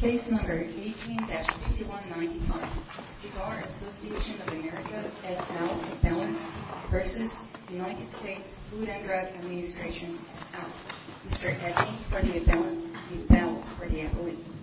Case number 18-6194 Cigar Association of America v. Federal Assembly President, United States, U.S. Administration District Attorney, Federal Assembly Chief of Staff, Virginia Police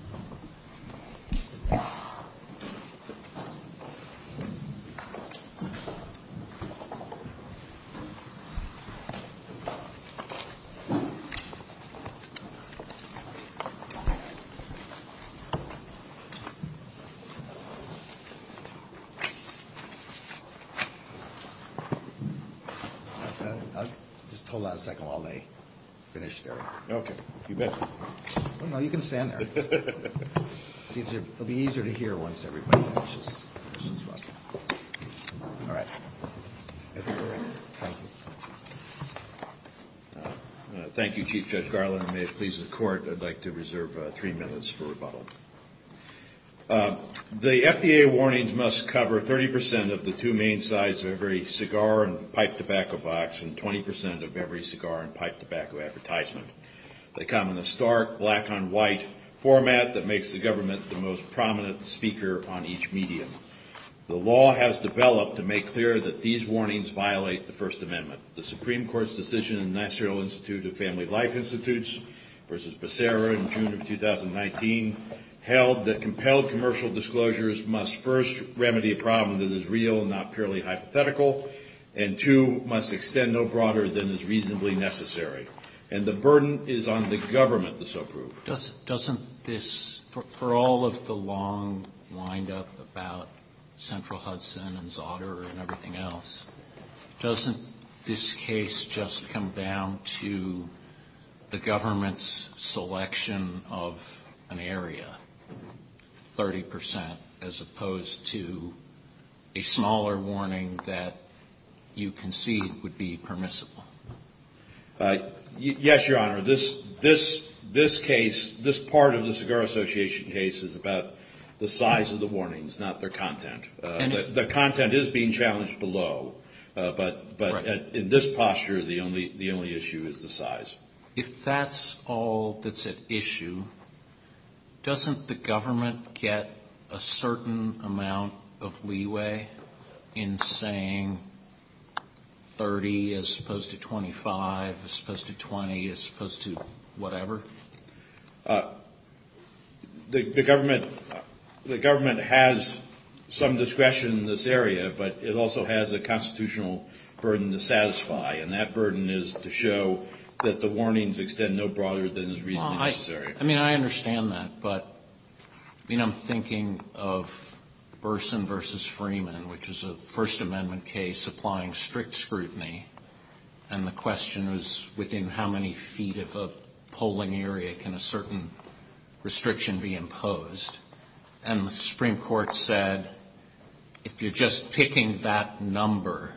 Thank you, Chief Judge Garland. I'd like to reserve three minutes for rebuttal. The FDA warnings must cover 30% of the two main sides of every cigar and pipe tobacco box and 20% of every cigar and pipe tobacco advertisement. They come in a stark black-on-white format that makes the government the most prominent speaker on each medium. The law has developed to make clear that these warnings violate the First Amendment. The Supreme Court's decision in the National Institute of Family Life Institutes v. Becerra in June of 2019 held that compelled commercial disclosures must first remedy a problem that is real and not purely hypothetical and, two, must extend no broader than is reasonably necessary. And the burden is on the government to so prove. Doesn't this, for all of the long wind-up about Central Hudson and Zotter and everything else, doesn't this case just come down to the government's selection of an area, 30%, as opposed to a smaller warning that you concede would be permissible? Yes, Your Honor. This case, this part of the Cigar Association case is about the size of the warnings, not their content. The content is being challenged below, but in this posture, the only issue is the size. If that's all that's at issue, doesn't the government get a certain amount of leeway in saying 30 as opposed to 25, as opposed to 20, as opposed to whatever? The government has some discretion in this area, but it also has a constitutional burden to satisfy, and that burden is to show that the warnings extend no broader than is reasonably necessary. I mean, I understand that, but I mean, I'm thinking of Burson v. Freeman, which is a First Amendment case applying strict scrutiny, and the question was within how many feet of a polling area can a certain restriction be imposed? And the Supreme Court said, if you're just picking that number,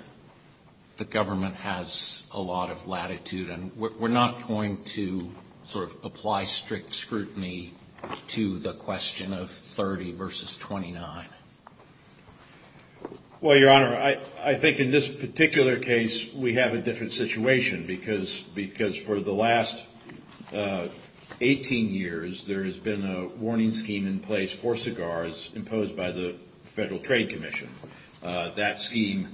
the government has a lot of latitude, and we're not going to sort of apply strict scrutiny to the question of 30 versus 29. Well, Your Honor, I think in this particular case, we have a different situation, because for the last 18 years, there has been a warning scheme in place for cigars imposed by the Federal Trade Commission. That scheme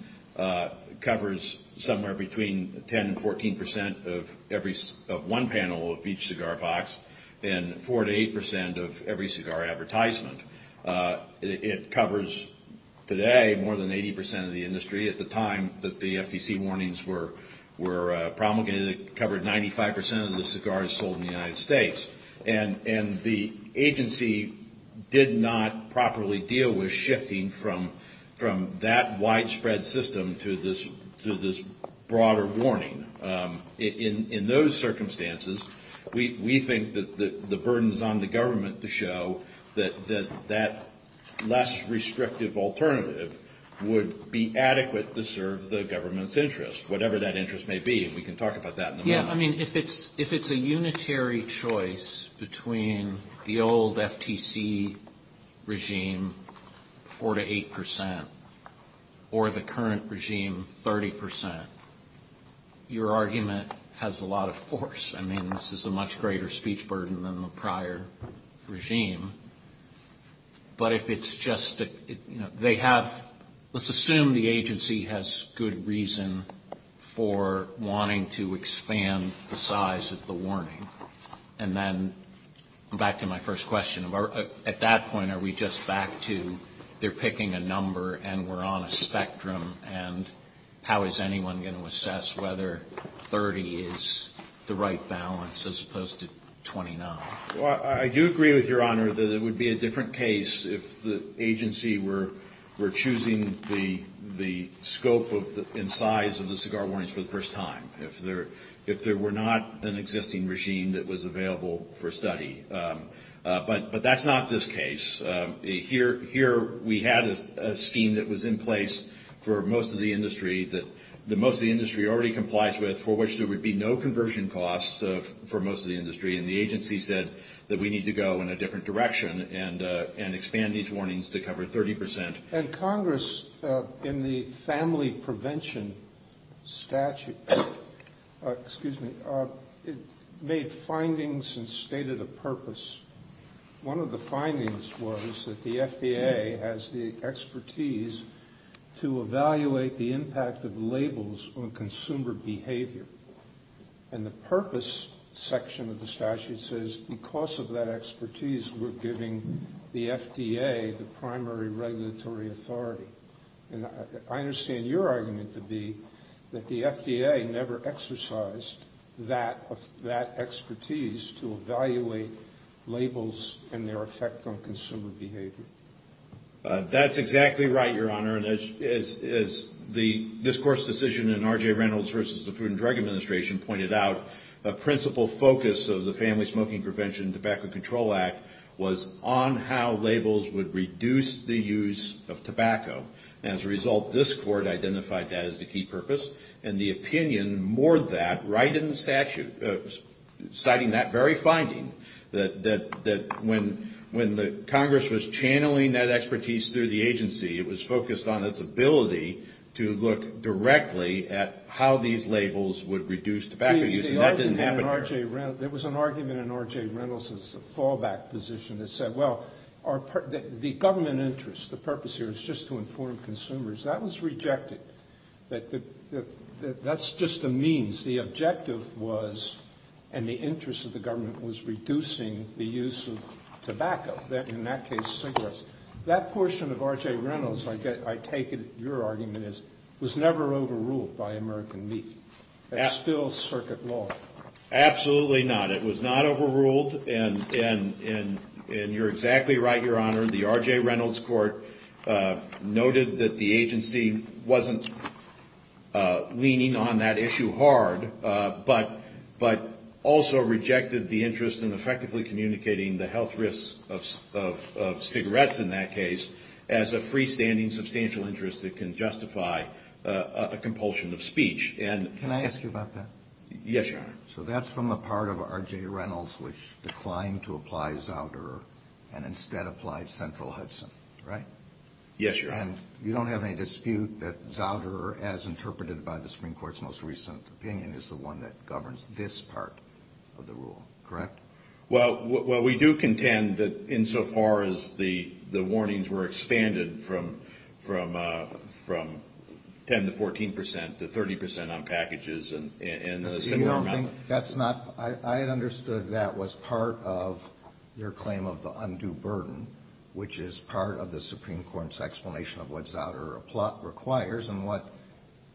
covers somewhere between 10 and 14 percent of one panel of each cigar box and 4 to 8 percent of every cigar advertisement. It covers today more than 80 percent of the industry. At the time that the FTC warnings were promulgated, it covered 95 percent of the cigars sold in the United States, and the agency did not properly deal with shifting from that widespread system to this broader warning. In those circumstances, we think that the burden is on the government to show that that less restrictive alternative would be adequate to serve the government's interest, whatever that interest may be. We can talk about that in a moment. I mean, if it's a unitary choice between the old FTC regime, 4 to 8 percent, or the current regime, 30 percent, your argument has a lot of force. I mean, this is a much greater speech burden than the prior regime. But if it's just that they have, let's assume the agency has good reason for wanting to expand the size of the warning, and then, back to my first question, at that point are we just back to they're picking a number and we're on a spectrum, and how is anyone going to assess whether 30 is the right balance as opposed to 29? Well, I do agree with Your Honor that it would be a different case if the agency were choosing the scope and size of the cigar warnings for the first time, if there were not an existing regime that was available for study. But that's not this case. Here we had a scheme that was in place for most of the industry that most of the industry already complies with, for which there would be no conversion costs for most of the industry, and the agency said that we need to go in a different direction and expand these warnings to cover 30 percent. And Congress, in the family prevention statute, made findings and stated a purpose. One of the findings was that the FDA has the expertise to evaluate the impact of labels on consumer behavior, and the purpose section of the statute says because of that expertise, we're giving the FDA the primary regulatory authority. I understand your argument to be that the FDA never exercised that expertise to evaluate labels and their effect on consumer behavior. That's exactly right, Your Honor. As the discourse decision in R.J. Reynolds v. the Food and Drug Administration pointed out, the principal focus of the Family Smoking Prevention and Tobacco Control Act was on how labels would reduce the use of tobacco. As a result, this Court identified that as the key purpose, and the opinion moored that right in the statute, citing that very finding, that when Congress was channeling that expertise through the agency, it was focused on its ability to look directly at how these labels would reduce tobacco use, and that didn't happen there. There was an argument in R.J. Reynolds' fallback position that said, well, the government interest, the purpose here is just to inform consumers. That was rejected. That's just the means. The objective was, and the interest of the government, was reducing the use of tobacco. In that case, cigarettes. That portion of R.J. Reynolds, I take it your argument is, was never overruled by American meat. That's still circuit law. Absolutely not. It was not overruled, and you're exactly right, Your Honor. The R.J. Reynolds Court noted that the agency wasn't leaning on that issue hard, but also rejected the interest in effectively communicating the health risks of cigarettes in that case as a freestanding substantial interest that can justify a compulsion of speech. Can I ask you about that? Yes, Your Honor. So that's from a part of R.J. Reynolds which declined to apply Zauderer and instead applied Stenthal-Hudson, right? Yes, Your Honor. And you don't have any dispute that Zauderer, as interpreted by the Supreme Court's most recent opinion, is the one that governs this part of the rule, correct? Well, we do contend that insofar as the warnings were expanded from 10% to 14% to 30% on packages. That's not – I understood that was part of your claim of the undue burden, which is part of the Supreme Court's explanation of what Zauderer requires and what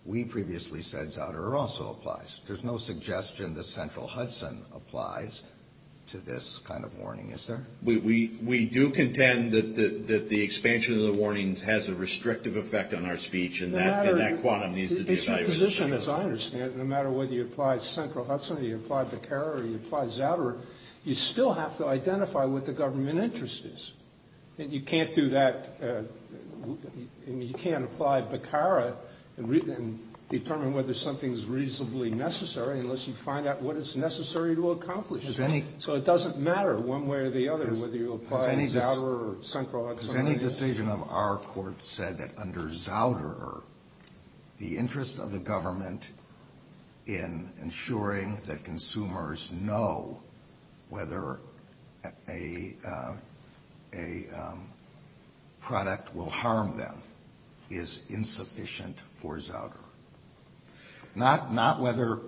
we previously said Zauderer also applies. There's no suggestion that Stenthal-Hudson applies to this kind of warning, is there? We do contend that the expansion of the warnings has a restrictive effect on our speech and that quantum needs to be decided. It's the position, as I understand it, no matter whether you apply Stenthal-Hudson or you apply Beccara or you apply Zauderer, you still have to identify what the government interest is. And you can't do that – you can't apply Beccara and determine whether something is reasonably necessary unless you find out what it's necessary to accomplish. So it doesn't matter one way or the other whether you apply Zauderer or Stenthal-Hudson. If any decision of our court said that under Zauderer, the interest of the government in ensuring that consumers know whether a product will harm them is insufficient for Zauderer. Not whether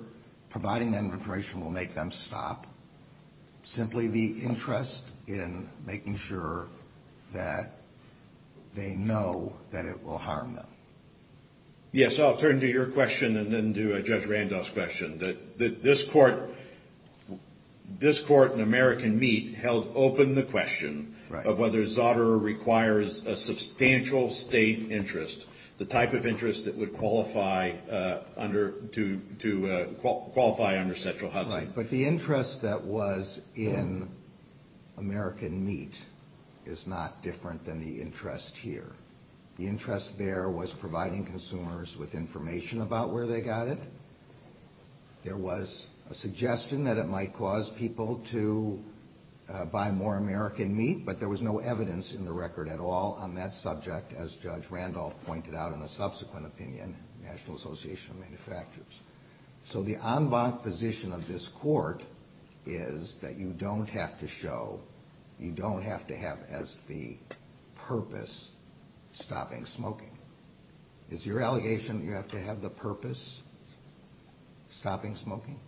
providing that information will make them stop. Simply the interest in making sure that they know that it will harm them. Yes, I'll turn to your question and then to Judge Randolph's question. This court in American Meat held open the question of whether Zauderer requires a substantial state interest, the type of interest that would qualify under Stenthal-Hudson. Right, but the interest that was in American Meat is not different than the interest here. The interest there was providing consumers with information about where they got it. There was a suggestion that it might cause people to buy more American Meat, but there was no evidence in the record at all on that subject, as Judge Randolph pointed out in a subsequent opinion, National Association of Manufacturers. So the en bas position of this court is that you don't have to show, you don't have to have as the purpose, stopping smoking. Is your allegation that you have to have the purpose, stopping smoking?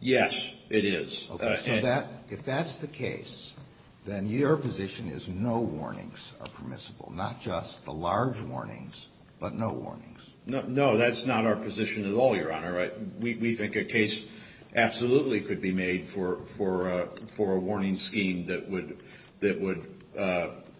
Yes, it is. Okay, so if that's the case, then your position is no warnings are permissible. Not just the large warnings, but no warnings. No, that's not our position at all, Your Honor. We think a case absolutely could be made for a warning scheme that would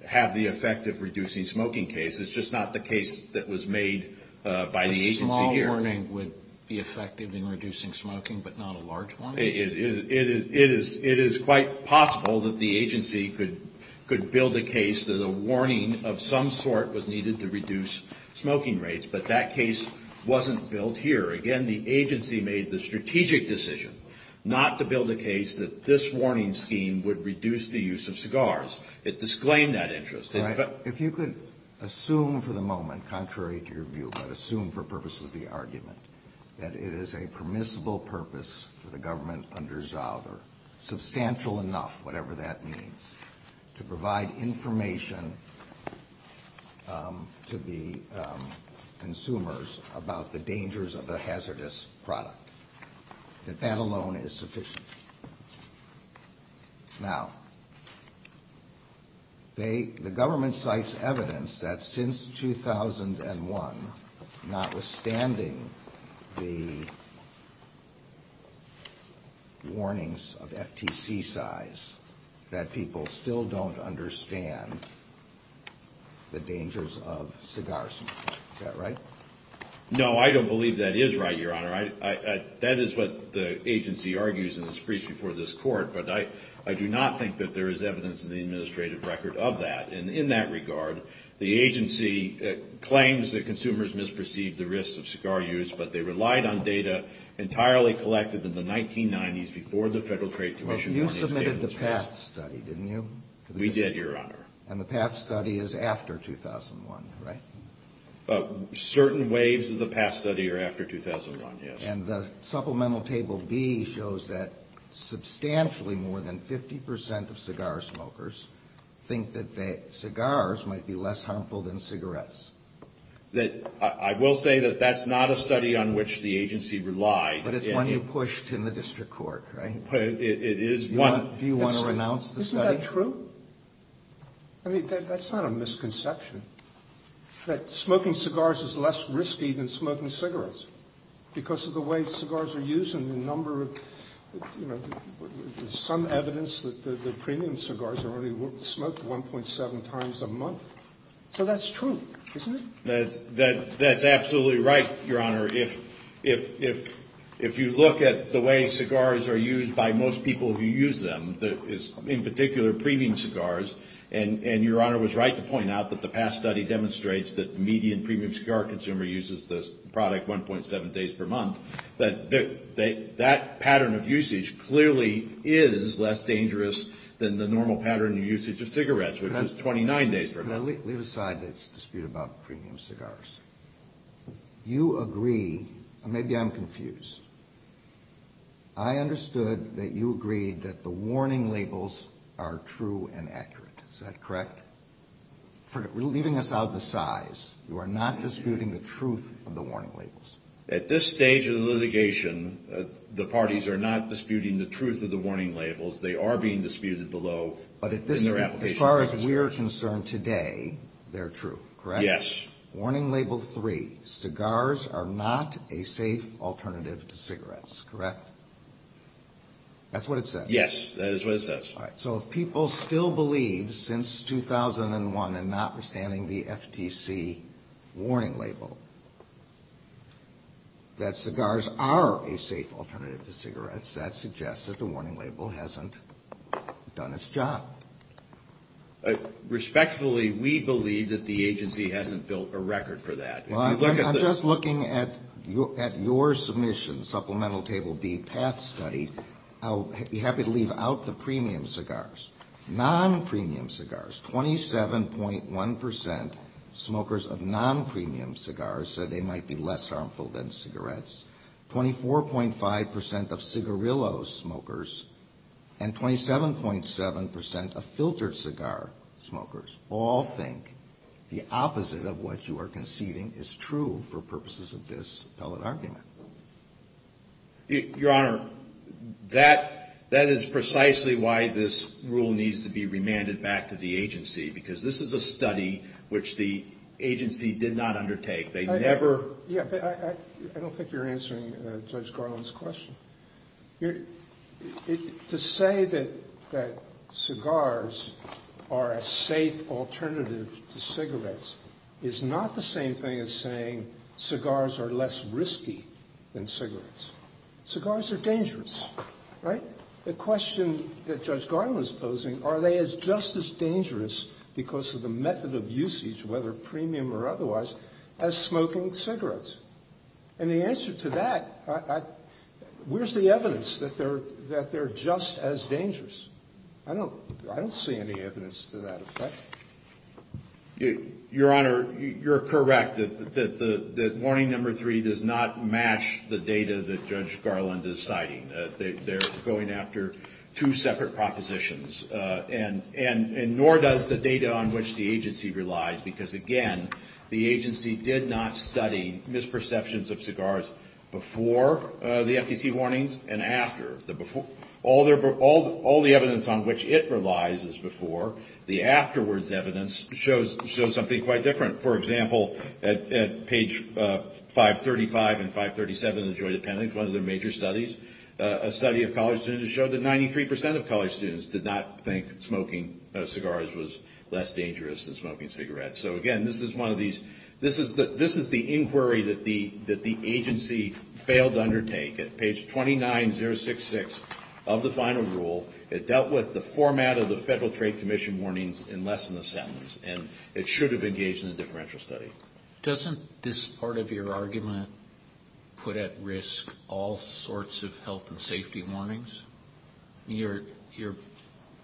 have the effect of reducing smoking cases. It's just not the case that was made by the agency here. A small warning would be effective in reducing smoking, but not a large one? It is quite possible that the agency could build a case that a warning of some sort was needed to reduce smoking rates, but that case wasn't built here. Again, the agency made the strategic decision not to build a case that this warning scheme would reduce the use of cigars. It disclaimed that interest. If you could assume for the moment, contrary to your view, but assume for purposes of the argument, that it is a permissible purpose for the government under Zauber, substantial enough, whatever that means, to provide information to the consumers about the dangers of the hazardous product. If that alone is sufficient. Now, the government cites evidence that since 2001, notwithstanding the warnings of FTC size, that people still don't understand the dangers of cigar smoking. Is that right? No, I don't believe that is right, Your Honor. That is what the agency argues in its brief before this Court, but I do not think that there is evidence in the administrative record of that. And in that regard, the agency claims that consumers misperceived the risks of cigar use, but they relied on data entirely collected in the 1990s before the Federal Trade Commission. Well, you submitted the PATH study, didn't you? We did, Your Honor. And the PATH study is after 2001, right? Certain waves of the PATH study are after 2001, yes. And the supplemental table B shows that substantially more than 50% of cigar smokers think that cigars might be less harmful than cigarettes. I will say that that is not a study on which the agency relied. But it is one you pushed in the district court, right? It is one. Do you want to renounce the study? Isn't that true? I mean, that is not a misconception, that smoking cigars is less risky than smoking cigarettes because of the way cigars are used and the number of, you know, there is some evidence that premium cigars are only smoked 1.7 times a month. So that is true, isn't it? That is absolutely right, Your Honor. If you look at the way cigars are used by most people who use them, in particular premium cigars, and Your Honor was right to point out that the PATH study demonstrates that the median premium cigar consumer uses the product 1.7 days per month, that that pattern of usage clearly is less dangerous than the normal pattern of usage of cigarettes, which is 29 days per month. Now leave aside this dispute about premium cigars. You agree, and maybe I am confused, I understood that you agreed that the warning labels are true and accurate. Is that correct? We are leaving this out of the size. You are not disputing the truth of the warning labels. At this stage of the litigation, the parties are not disputing the truth of the warning labels. They are being disputed below in their application process. But as far as we are concerned today, they are true, correct? Yes. Warning label three, cigars are not a safe alternative to cigarettes, correct? That's what it says? Yes, that is what it says. All right. So if people still believe, since 2001 and notwithstanding the FTC warning label, that cigars are a safe alternative to cigarettes, that suggests that the warning label hasn't done its job. Respectfully, we believe that the agency hasn't built a record for that. I'm just looking at your submission, Supplemental Table B, PATH Study. I'll be happy to leave out the premium cigars. Non-premium cigars, 27.1% smokers of non-premium cigars said they might be less harmful than cigarettes. 24.5% of cigarillo smokers and 27.7% of filtered cigar smokers all think the opposite of what you are conceding is true for purposes of this appellate argument. Your Honor, that is precisely why this rule needs to be remanded back to the agency, because this is a study which the agency did not undertake. I don't think you're answering Judge Garland's question. To say that cigars are a safe alternative to cigarettes is not the same thing as saying cigars are less risky than cigarettes. Cigars are dangerous, right? The question that Judge Garland is posing, are they just as dangerous as smoking cigarettes? And the answer to that, where's the evidence that they're just as dangerous? I don't see any evidence to that effect. Your Honor, you're correct that warning number three does not match the data that Judge Garland is citing. They're going after two separate propositions, and nor does the data on which the agency relies, because again, the agency did not study misperceptions of cigars before the FTC warnings and after. All the evidence on which it relies is before. The afterwards evidence shows something quite different. For example, at page 535 and 537 of the jury appendix, one of the major studies, a study of college students showed that 93% of college students did not think that smoking cigars was less dangerous than smoking cigarettes. So again, this is the inquiry that the agency failed to undertake. At page 29066 of the final rule, it dealt with the format of the Federal Trade Commission warnings in less than a sentence, and it should have engaged in a differential study. Doesn't this part of your argument put at risk all sorts of health and safety warnings? Your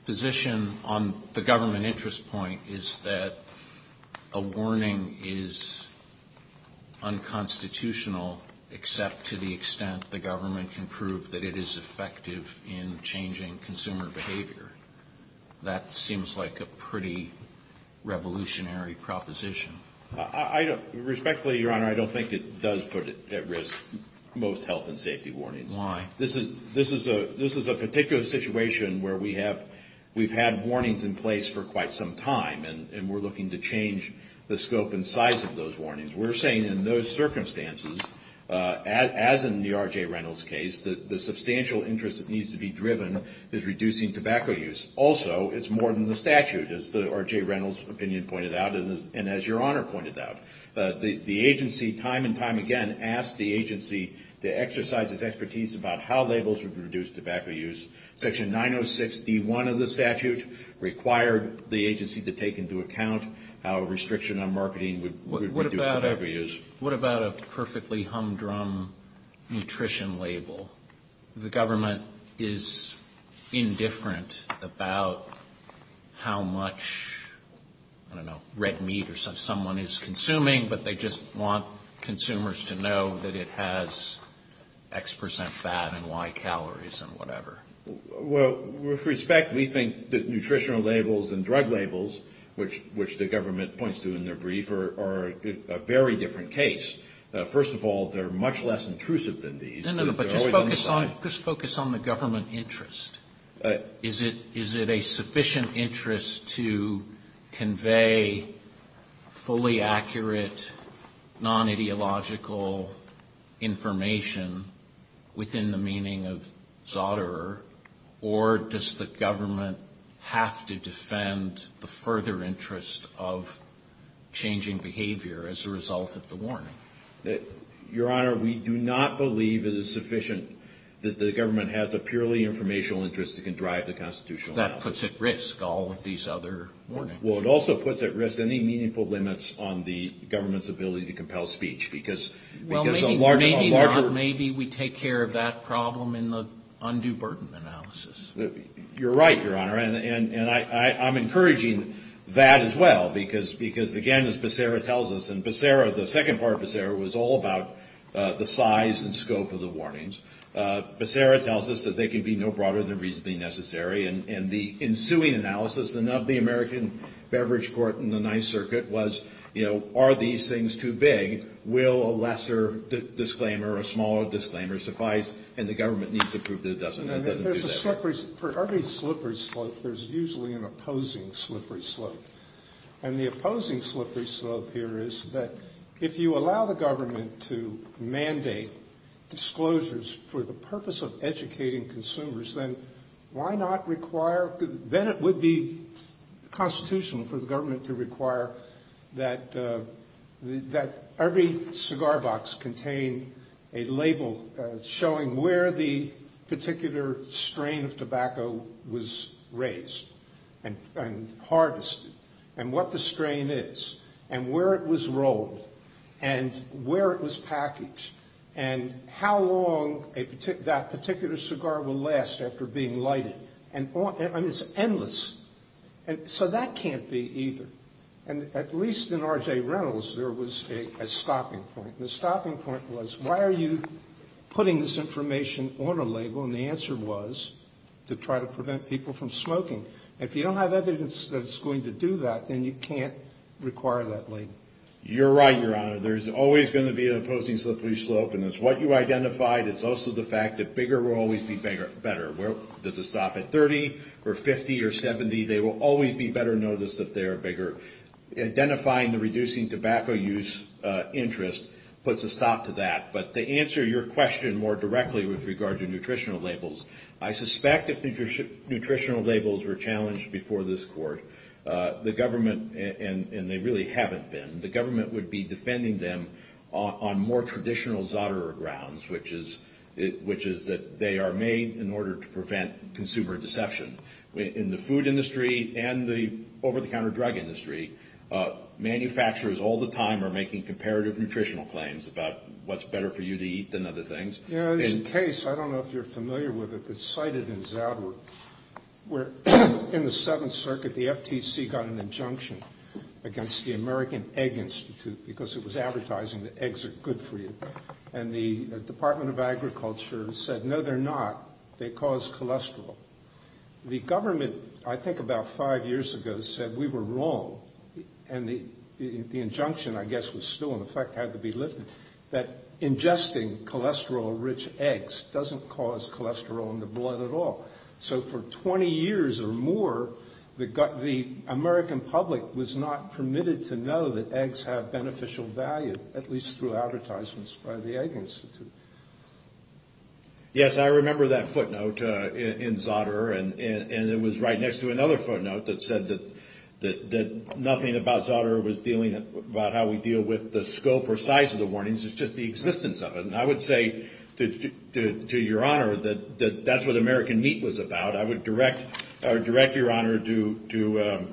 position on the government interest point is that a warning is unconstitutional, except to the extent the government can prove that it is effective in changing consumer behavior. That seems like a pretty revolutionary proposition. Respectfully, Your Honor, I don't think it does put at risk most health and safety warnings. Why? This is a particular situation where we have had warnings in place for quite some time, and we're looking to change the scope and size of those warnings. We're saying in those circumstances, as in the R.J. Reynolds case, the substantial interest that needs to be driven is reducing tobacco use. Also, it's more than the statute, as the R.J. Reynolds opinion pointed out and as Your Honor pointed out. The agency, time and time again, asked the agency to exercise its expertise about how labels would reduce tobacco use. Section 906D1 of the statute required the agency to take into account how restriction on marketing would reduce tobacco use. What about a perfectly humdrum nutrition label? The government is indifferent about how much, I don't know, red meat or such someone is consuming, but they just want consumers to know that it has X percent fat and Y calories and whatever. Well, with respect, we think that nutritional labels and drug labels, which the government points to in their brief, are a very different case. First of all, they're much less intrusive than these. No, no, but just focus on the government interest. Is it a sufficient interest to convey fully accurate, non-ideological information within the meaning of Zotterer, or does the government have to defend the further interest of changing behavior as a result of the warning? Your Honor, we do not believe it is sufficient that the government has a purely informational interest that can drive the constitutional law. That puts at risk all of these other warnings. Well, it also puts at risk any meaningful limits on the government's ability to compel speech, Well, maybe we take care of that problem in the undue burden analysis. You're right, Your Honor, and I'm encouraging that as well, because, again, as Becerra tells us, and Becerra, the second part of Becerra, was all about the size and scope of the warnings. Becerra tells us that they can be no broader than reasonably necessary, and the ensuing analysis of the American beverage court in the Ninth Circuit was, you know, are these things too big? Will a lesser disclaimer or a smaller disclaimer suffice? And the government needs to prove that it doesn't. For every slippery slope, there's usually an opposing slippery slope, and the opposing slippery slope here is that if you allow the government to mandate disclosures for the purpose of educating consumers, then why not require, then it would be constitutional for the government to require that every cigar box contain a label showing where the particular strain of tobacco was raised and harvested, and what the strain is, and where it was rolled, and where it was packaged, and how long that particular cigar will last after being lighted. And it's endless. And so that can't be either. And at least in R.J. Reynolds, there was a stopping point. The stopping point was, why are you putting this information on a label? And the answer was to try to prevent people from smoking. If you don't have evidence that it's going to do that, then you can't require that label. You're right, Your Honor. There's always going to be an opposing slippery slope, and it's what you identified. It's also the fact that bigger will always be better. Does it stop at 30, or 50, or 70? They will always be better noticed if they are bigger. Identifying the reducing tobacco use interest puts a stop to that. But to answer your question more directly with regard to nutritional labels, I suspect if nutritional labels were challenged before this court, the government, and they really haven't been, the government would be defending them on more traditional Zotera grounds, which is that they are made in order to prevent consumer deception. In the food industry and the over-the-counter drug industry, manufacturers all the time are making comparative nutritional claims about what's better for you to eat than other things. There's a case, I don't know if you're familiar with it, but it's cited in Zotero, where in the Seventh Circuit, the FTC got an injunction against the American Egg Institute because it was advertising that eggs are good for you. And the Department of Agriculture said, no, they're not. They cause cholesterol. The government, I think about five years ago, said we were wrong. And the injunction, I guess, was still in effect, had to be lifted, that ingesting cholesterol-rich eggs doesn't cause cholesterol in the blood at all. So for 20 years or more, the American public was not permitted to know that eggs have beneficial value, at least through advertisements by the Egg Institute. Yes, I remember that footnote in Zotero, and it was right next to another footnote that said that nothing about Zotero was dealing about how we deal with the scope or size of the warnings. It's just the existence of it. And I would say to Your Honor that that's what American Meat was about. I would direct Your Honor to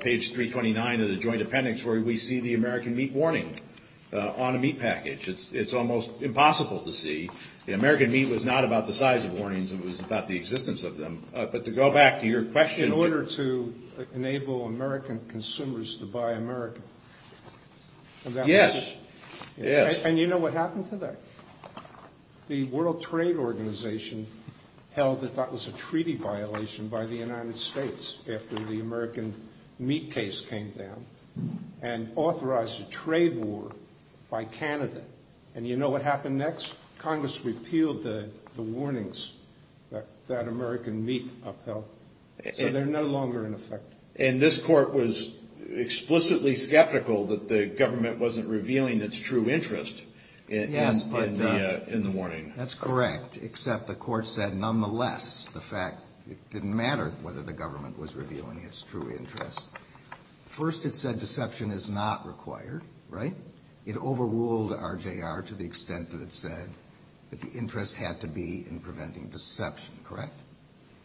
page 329 of the Joint Appendix where we see the American Meat warning on a meat package. It's almost impossible to see. American Meat was not about the size of warnings. It was about the existence of them. But to go back to your question- In order to enable American consumers to buy American. Yes. And you know what happened to that? The World Trade Organization held that that was a treaty violation by the United States after the American Meat case came down, and authorized a trade war by Canada. And you know what happened next? Congress repealed the warnings that American Meat upheld. So they're no longer in effect. And this court was explicitly skeptical that the government wasn't revealing its true interest in the warning. That's correct, except the court said nonetheless the fact it didn't matter whether the government was revealing its true interest. First it said deception is not required, right? It overruled RJR to the extent that it said that the interest had to be in preventing deception, correct?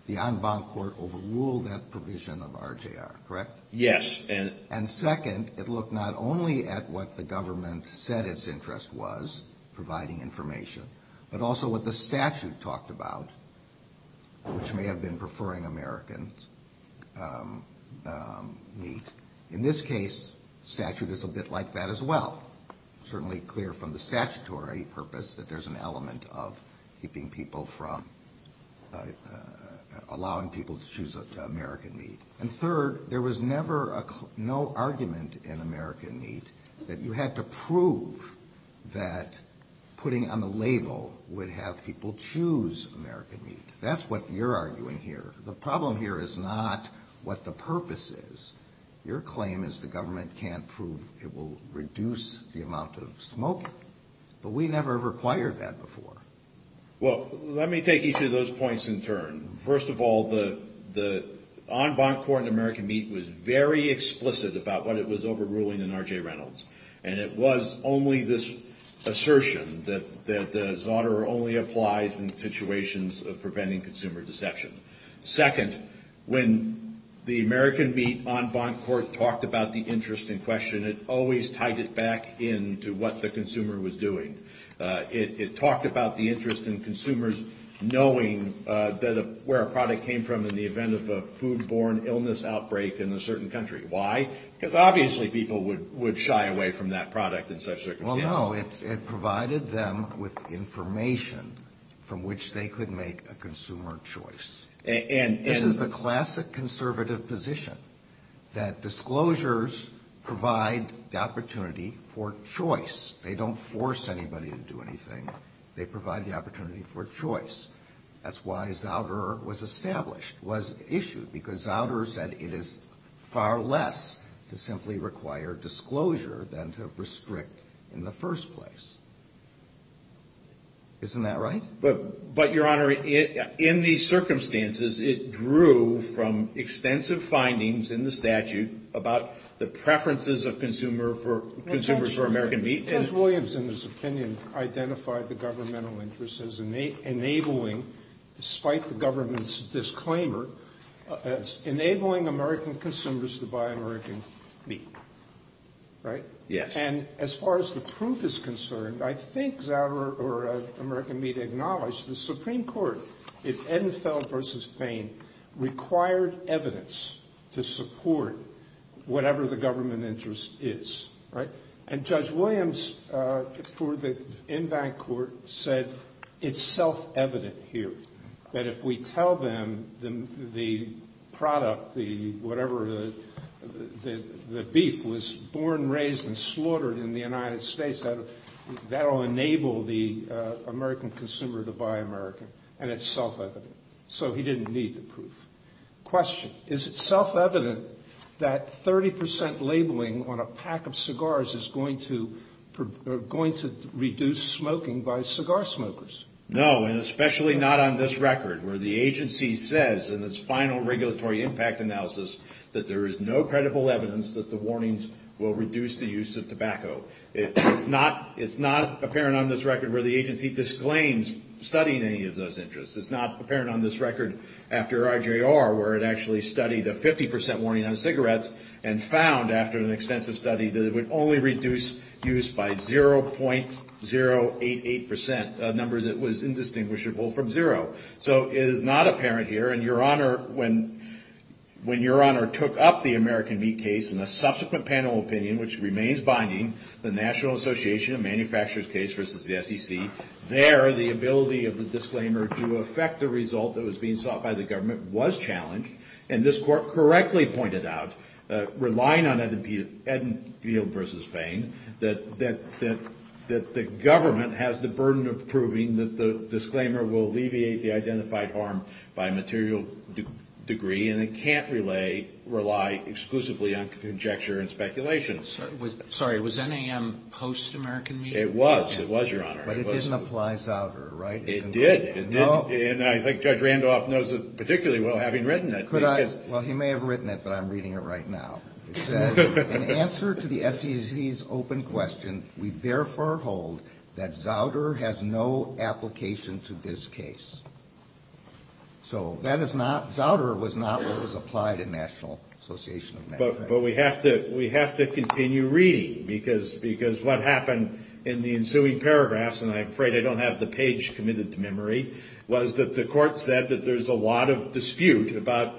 The Envam Court overruled that provision of RJR, correct? Yes. And second, it looked not only at what the government said its interest was, providing information, but also what the statute talked about, which may have been preferring American Meat. In this case, the statute is a bit like that as well. Certainly clear from the statutory purpose that there's an element of allowing people to choose American Meat. And third, there was never no argument in American Meat that you had to prove that putting on the label would have people choose American Meat. That's what you're arguing here. The problem here is not what the purpose is. Your claim is the government can't prove it will reduce the amount of smoke. But we never required that before. Well, let me take each of those points in turn. First of all, the Envam Court in American Meat was very explicit about what it was overruling in RJ Reynolds. And it was only this assertion that Zauterer only applies in situations of preventing consumer deception. Second, when the American Meat Envam Court talked about the interest in question, it always tied it back in to what the consumer was doing. It talked about the interest in consumers knowing where a product came from in the event of a food-borne illness outbreak in a certain country. Why? Because obviously people would shy away from that product in such circumstances. Well, no, it provided them with information from which they could make a consumer choice. This is the classic conservative position that disclosures provide the opportunity for choice. They don't force anybody to do anything. They provide the opportunity for choice. That's why Zauterer was established, was issued, because Zauterer said it is far less to simply require disclosure than to restrict in the first place. Isn't that right? But, Your Honor, in these circumstances, it drew from extensive findings in the statute about the preferences of consumers for American meat. Judge Williams, in his opinion, identified the governmental interest as enabling, despite the government's disclaimer, as enabling American consumers to buy American meat. Right? Yes. And as far as the proof is concerned, I think Zauterer or American Meat acknowledged that the Supreme Court, in Enfeld v. Payne, required evidence to support whatever the government interest is. Right? And Judge Williams, in that court, said it's self-evident here that if we tell them the product, whatever the beef, was born, raised, and slaughtered in the United States, that will enable the American consumer to buy American. And it's self-evident. So he didn't need the proof. Question. Is it self-evident that 30% labeling on a pack of cigars is going to reduce smoking by cigar smokers? No, and especially not on this record, where the agency says in its final regulatory impact analysis that there is no credible evidence that the warnings will reduce the use of tobacco. It's not apparent on this record where the agency disclaims studying any of those interests. It's not apparent on this record after RJR, where it actually studied a 50% warning on cigarettes and found, after an extensive study, that it would only reduce use by 0.088%, a number that was indistinguishable from zero. So it is not apparent here. And Your Honor, when Your Honor took up the American Meat case, in a subsequent panel opinion, which remains binding, the National Association of Manufacturers case versus the SEC, there the ability of the disclaimer to affect the result that was being sought by the government was challenged. And this court correctly pointed out, relying on Edenfield versus Payne, that the government has the burden of proving that the disclaimer will alleviate the identified harm by a material degree and it can't rely exclusively on conjecture and speculation. Sorry, was NAM post-American Meat? It was. It was, Your Honor. But it didn't apply Zouder, right? It did. And I think Judge Randolph knows it particularly well, having written it. Well, he may have written it, but I'm reading it right now. It says, in answer to the SEC's open question, we therefore hold that Zouder has no application to this case. So Zouder was not what was applied in National Association of Manufacturers. But we have to continue reading, because what happened in the ensuing paragraphs, and I'm afraid I don't have the page committed to memory, was that the court said that there's a lot of dispute about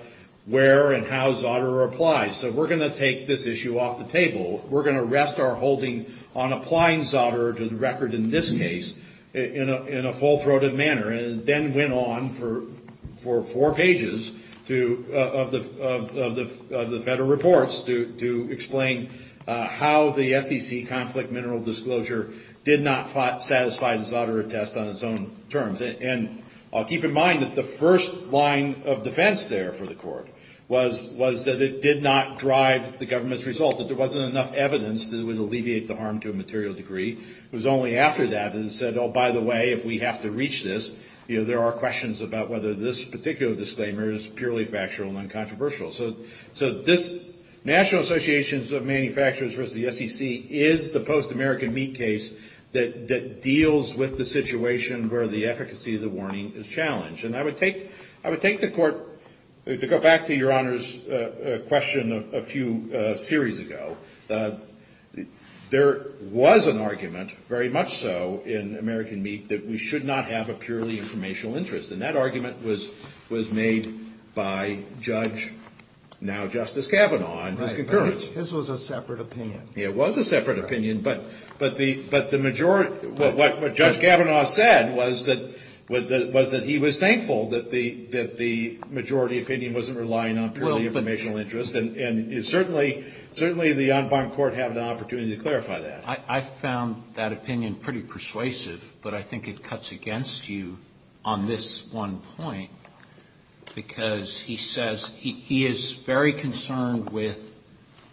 where and how Zouder applies. So we're going to take this issue off the table. We're going to rest our holding on applying Zouder to the record in this case in a full-throated manner. And then went on for four pages of the federal reports to explain how the SEC conflict mineral disclosure did not satisfy Zouder's attest on its own terms. And keep in mind that the first line of defense there for the court was that it did not drive the government's results. If there wasn't enough evidence, it would alleviate the harm to a material degree. The SEC was only after that and said, oh, by the way, if we have to reach this, there are questions about whether this particular disclaimer is purely factual and uncontroversial. So this National Association of Manufacturers versus the SEC is the post-American meat case that deals with the situation where the efficacy of the warning is challenged. And I would take the court to go back to your Honor's question a few series ago. There was an argument, very much so in American meat, that we should not have a purely informational interest. And that argument was made by Judge, now Justice Kavanaugh. This was a separate opinion. It was a separate opinion. But what Judge Kavanaugh said was that he was thankful that the majority opinion wasn't relying on purely informational interest. And certainly the En Barne Court had an opportunity to clarify that. I found that opinion pretty persuasive, but I think it cuts against you on this one point. Because he says he is very concerned with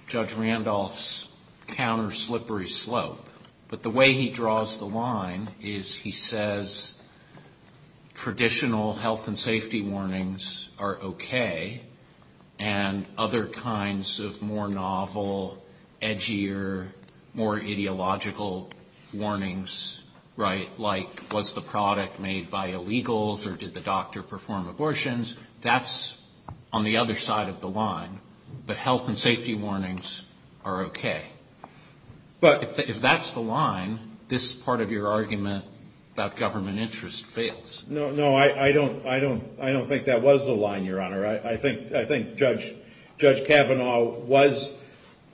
Judge Randolph's counter-slippery slope. But the way he draws the line is he says traditional health and safety warnings are okay, and other kinds of more novel, edgier, more ideological warnings, right, like was the product made by illegals or did the doctor perform abortions. That's on the other side of the line. But health and safety warnings are okay. But if that's the line, this part of your argument about government interest fails. No, I don't think that was the line, Your Honor. I think Judge Kavanaugh was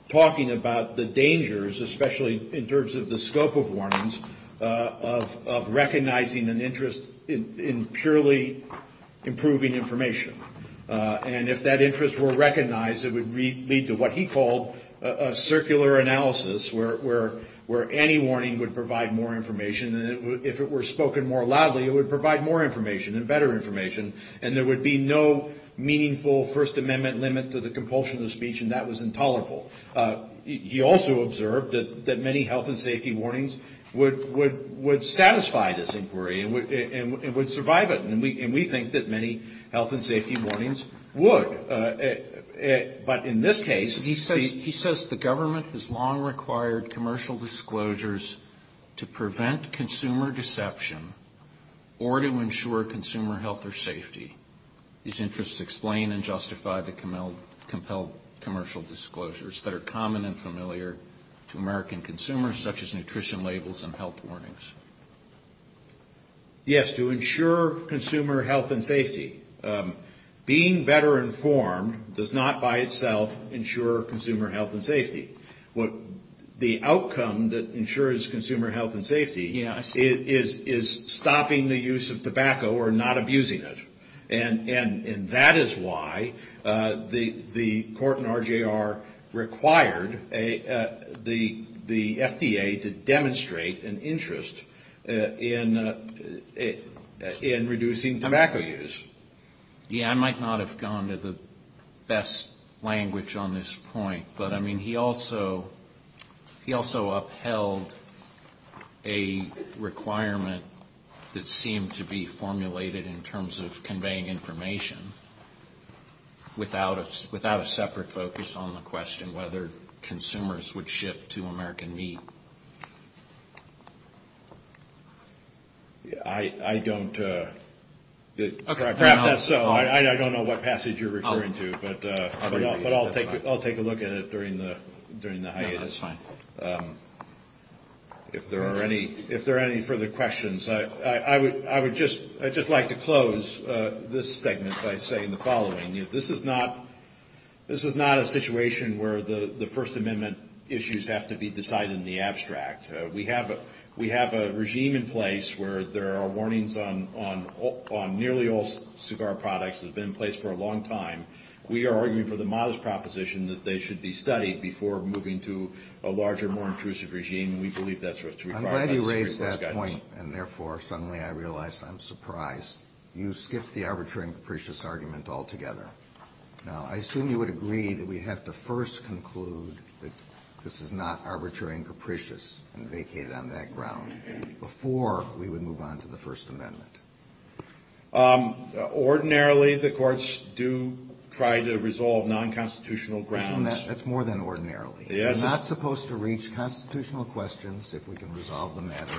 talking about the dangers, especially in terms of the scope of warnings, of recognizing an interest in purely improving information. And if that interest were recognized, it would lead to what he called a circular analysis, where any warning would provide more information. And if it were spoken more loudly, it would provide more information and better information. And there would be no meaningful First Amendment limit to the compulsion of the speech, and that was intolerable. He also observed that many health and safety warnings would satisfy this inquiry and would survive it. And we think that many health and safety warnings would. But in this case, he says the government has long required commercial disclosures to prevent consumer deception or to ensure consumer health or safety. These interests explain and justify the compelled commercial disclosures that are common and familiar to American consumers, such as nutrition labels and health warnings. Yes, to ensure consumer health and safety. Being better informed does not by itself ensure consumer health and safety. The outcome that ensures consumer health and safety is stopping the use of tobacco or not abusing it. And that is why the court in RJR required the FDA to demonstrate an interest in reducing tobacco use. Yes, I might not have gone to the best language on this point, but, I mean, he also upheld a requirement that seemed to be formulated in terms of conveying information without a separate focus on the question whether consumers would shift to American meat. I don't know what passage you're referring to, but I'll take a look at it during the hiatus. If there are any further questions, I would just like to close this segment by saying the following. This is not a situation where the First Amendment issues have to be decided in the abstract. We have a regime in place where there are warnings on nearly all cigar products. It's been in place for a long time. We are arguing for the modest proposition that they should be studied before moving to a larger, more intrusive regime. We believe that's what's required. I'm glad you raised that point, and therefore suddenly I realize I'm surprised. You skipped the arbitrary and capricious argument altogether. Now, I assume you would agree that we have to first conclude that this is not arbitrary and capricious and vacate on that ground before we would move on to the First Amendment. Ordinarily, the courts do try to resolve non-constitutional grounds. That's more than ordinarily. We're not supposed to reach constitutional questions if we can resolve the matter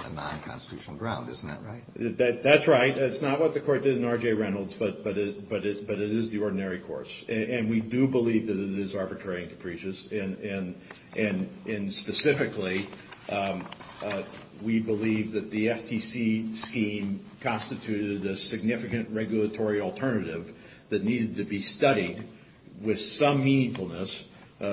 on a non-constitutional ground. Isn't that right? That's right. That's not what the court did in R.J. Reynolds, but it is the ordinary courts. And we do believe that it is arbitrary and capricious. And specifically, we believe that the FTC scheme constituted a significant regulatory alternative that needed to be studied with some meaningfulness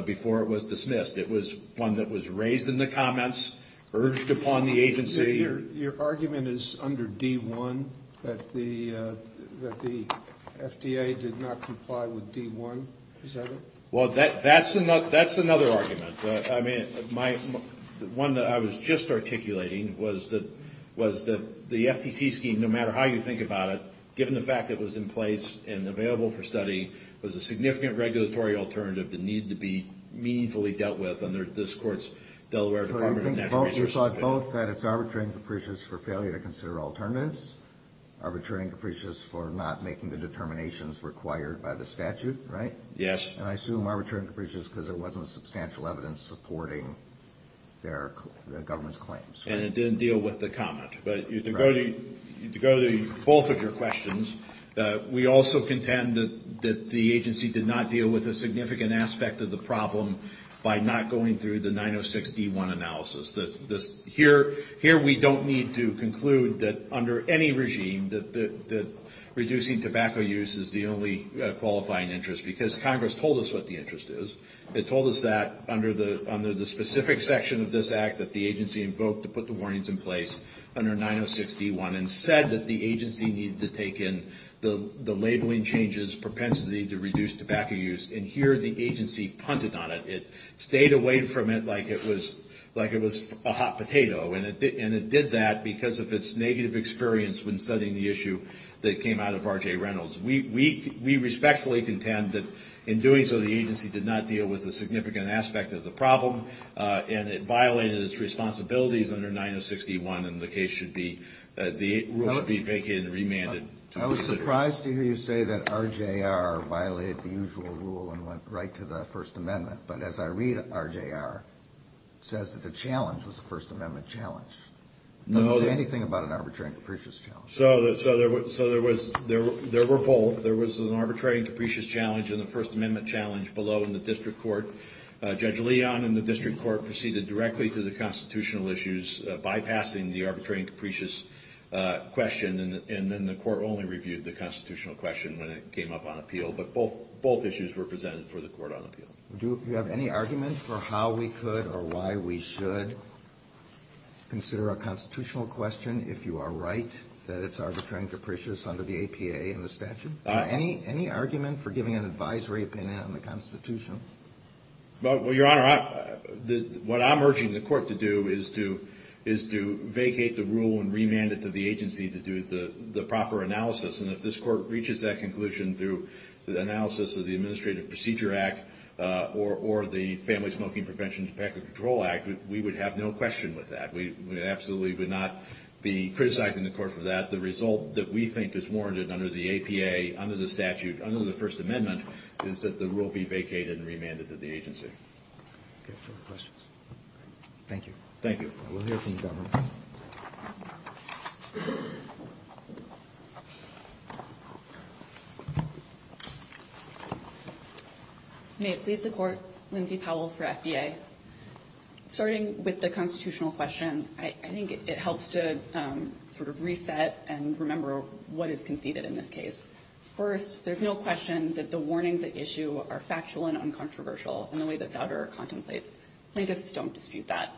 before it was dismissed. It was one that was raised in the comments, urged upon the agency. Your argument is under D-1, that the FDA did not comply with D-1. Is that it? Well, that's another argument. I mean, the one that I was just articulating was that the FTC scheme, no matter how you think about it, given the fact that it was in place and available for study, was a significant regulatory alternative that needed to be meaningfully dealt with under this court's Delaware Department of Natural Resources. You thought both that it's arbitrary and capricious for failure to consider alternatives, arbitrary and capricious for not making the determinations required by the statute, right? Yes. And I assume arbitrary and capricious because there wasn't substantial evidence supporting their government's claims. And it didn't deal with the comment. But to go to both of your questions, we also contend that the agency did not deal with a significant aspect of the problem by not going through the 906-D-1 analysis. Here we don't need to conclude that under any regime that reducing tobacco use is the only qualifying interest because Congress told us what the interest is. They told us that under the specific section of this Act that the agency invoked to put the warnings in place under 906-D-1 and said that the agency needed to take in the labeling changes, propensity to reduce tobacco use. And here the agency punted on it. It stayed away from it like it was a hot potato. And it did that because of its negative experience when studying the issue that came out of R.J. Reynolds. We respectfully contend that in doing so the agency did not deal with a significant aspect of the problem and it violated its responsibilities under 906-D-1 and the case should be remanded. I was surprised to hear you say that R.J.R. violated the usual rule and went right to the First Amendment. But as I read it, R.J.R. says that the challenge was the First Amendment challenge. Was there anything about an arbitrary and capricious challenge? So there were both. There was an arbitrary and capricious challenge in the First Amendment challenge below in the district court. Judge Leon in the district court proceeded directly to the constitutional issues, bypassing the arbitrary and capricious question, and then the court only reviewed the constitutional question when it came up on appeal. But both issues were presented for the court on appeal. Do you have any argument for how we could or why we should consider a constitutional question if you are right, that it's arbitrary and capricious under the APA and the statute? Any argument for giving an advisory opinion on the constitution? Well, Your Honor, what I'm urging the court to do is to vacate the rule and remand it to the agency to do the proper analysis. And if this court reaches that conclusion through the analysis of the Administrative Procedure Act or the Family Smoking Prevention and Tobacco Control Act, we would have no question with that. We absolutely would not be criticizing the court for that. The result that we think is warranted under the APA, under the statute, under the First Amendment, is that the rule be vacated and remanded to the agency. Any further questions? Thank you. Thank you. We'll hear from you, Your Honor. May I please support Lindsay Powell for FBA? Starting with the constitutional question, I think it helps to sort of reset and remember what is conceded in this case. First, there's no question that the warnings at issue are factual and uncontroversial in the way that the auditor contemplates. Plaintiffs don't dispute that.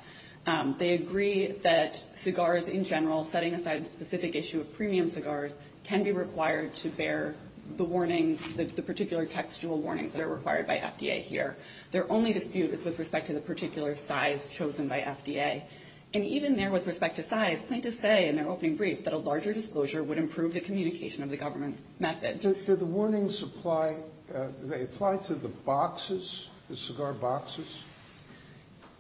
They agree that cigars in general, setting aside the specific issue of premium cigars, can be required to bear the particular textual warnings that are required by FDA here. Their only dispute is with respect to the particular size chosen by FDA. And even there with respect to size, plaintiffs say in their opening brief that a larger disclosure would improve the communication of the government's message. Do the warnings apply to the boxes, the cigar boxes?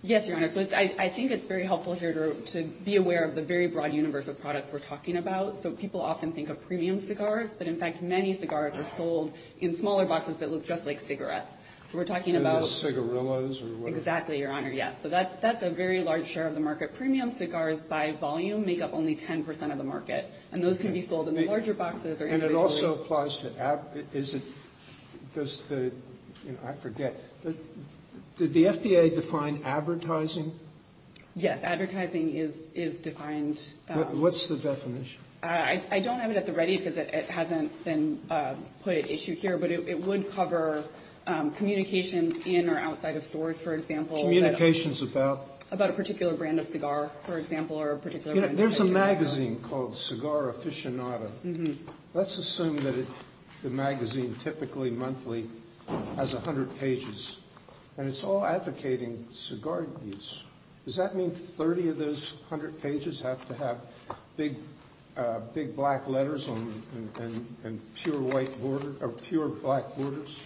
Yes, Your Honor. I think it's very helpful here to be aware of the very broad universe of products we're talking about. So people often think of premium cigars, but in fact many cigars are sold in smaller boxes that look just like cigarettes. So we're talking about— Cigarillas. Exactly, Your Honor, yes. So that's a very large share of the market. Premium cigars by volume make up only 10% of the market, and those can be sold in larger boxes. And it also applies to—I forget. Did the FDA define advertising? Yes, advertising is defined. What's the definition? I don't have it at the ready because it hasn't been put at issue here, but it would cover communications in or outside of stores, for example. Communications about? About a particular brand of cigar, for example, or a particular— There's a magazine called Cigar Aficionado. Let's assume that the magazine typically monthly has 100 pages, and it's all advocating cigar use. Does that mean 30 of those 100 pages have to have big black letters and pure black borders?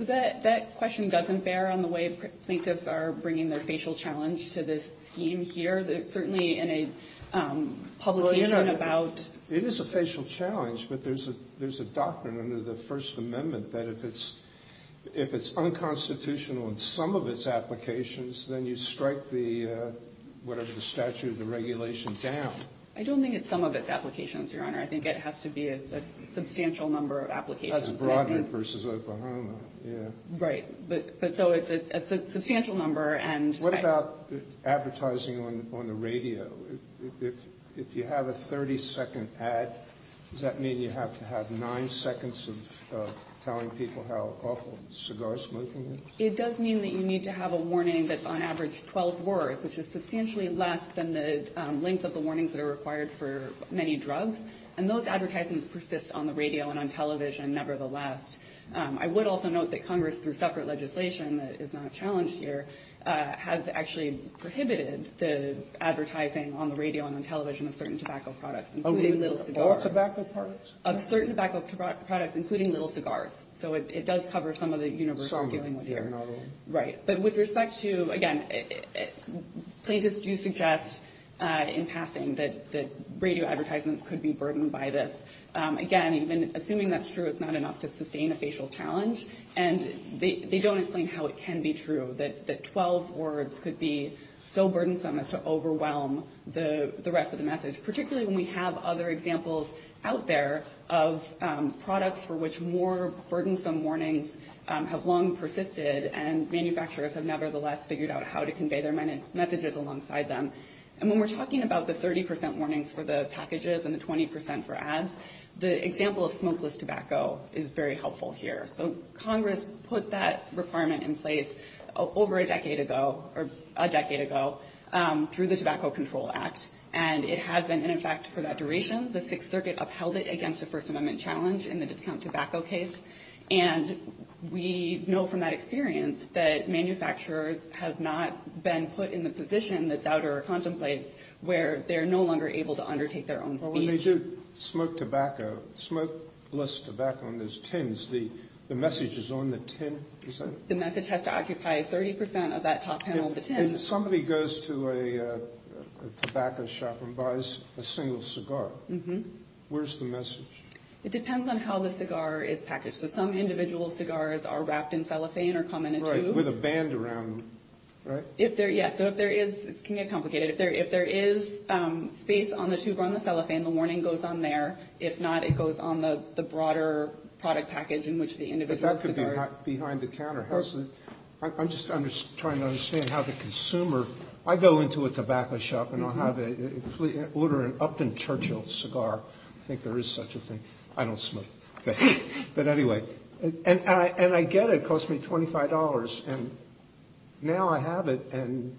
That question doesn't bear on the way thinkers are bringing their facial challenge to this theme here. Certainly in a publication about— It is a facial challenge, but there's a doctrine under the First Amendment that if it's unconstitutional in some of its applications, then you strike the—whatever the statute of the regulation—down. I don't think it's some of its applications, Your Honor. Broadwood versus Oklahoma. Right, but so it's a substantial number, and— What about advertising on the radio? If you have a 30-second ad, does that mean you have to have nine seconds of telling people how awful cigar smoking is? It does mean that you need to have a warning that's on average 12 words, which is substantially less than the length of the warnings that are required for many drugs, and those advertisements persist on the radio and on television nevertheless. I would also note that Congress, through separate legislation that is not challenged here, has actually prohibited the advertising on the radio and on television of certain tobacco products, including little cigars. All tobacco products? Of certain tobacco products, including little cigars. So it does cover some of the universal givens here. Right. But with respect to, again, places do suggest in passing that radio advertisements could be burdened by this. Again, even assuming that's true, it's not enough to sustain a facial challenge, and they don't explain how it can be true that 12 words could be so burdensome as to overwhelm the rest of the message, particularly when we have other examples out there of products for which more burdensome warnings have long persisted and manufacturers have nevertheless figured out how to convey their messages alongside them. And when we're talking about the 30 percent warnings for the packages and the 20 percent for ads, the example of smokeless tobacco is very helpful here. So Congress put that requirement in place over a decade ago, or a decade ago, through the Tobacco Control Act, and it has been in effect for that duration. The Sixth Circuit upheld it against a First Amendment challenge in the discount tobacco case, and we know from that experience that manufacturers have not been put in the position, that's out of our contemplate, where they're no longer able to undertake their own. Well, when they do smoke tobacco, smokeless tobacco in those tins, the message is on the tin? The message has to occupy 30 percent of that top panel of the tin. And somebody goes to a tobacco shop and buys a single cigar. Mm-hmm. Where's the message? It depends on how the cigar is packaged. Some individual cigars are wrapped in cellophane or come in a tube. Right, with a band around them, right? Yeah, so if there is – it can get complicated. If there is space on the tube or on the cellophane, the warning goes on there. If not, it goes on the broader product package in which the individual cigar is. But that could be behind the counter. I'm just trying to understand how the consumer – I go into a tobacco shop and order an Upton Churchill cigar. I think there is such a thing. I don't smoke. But anyway. And I get it. It cost me $25. And now I have it. And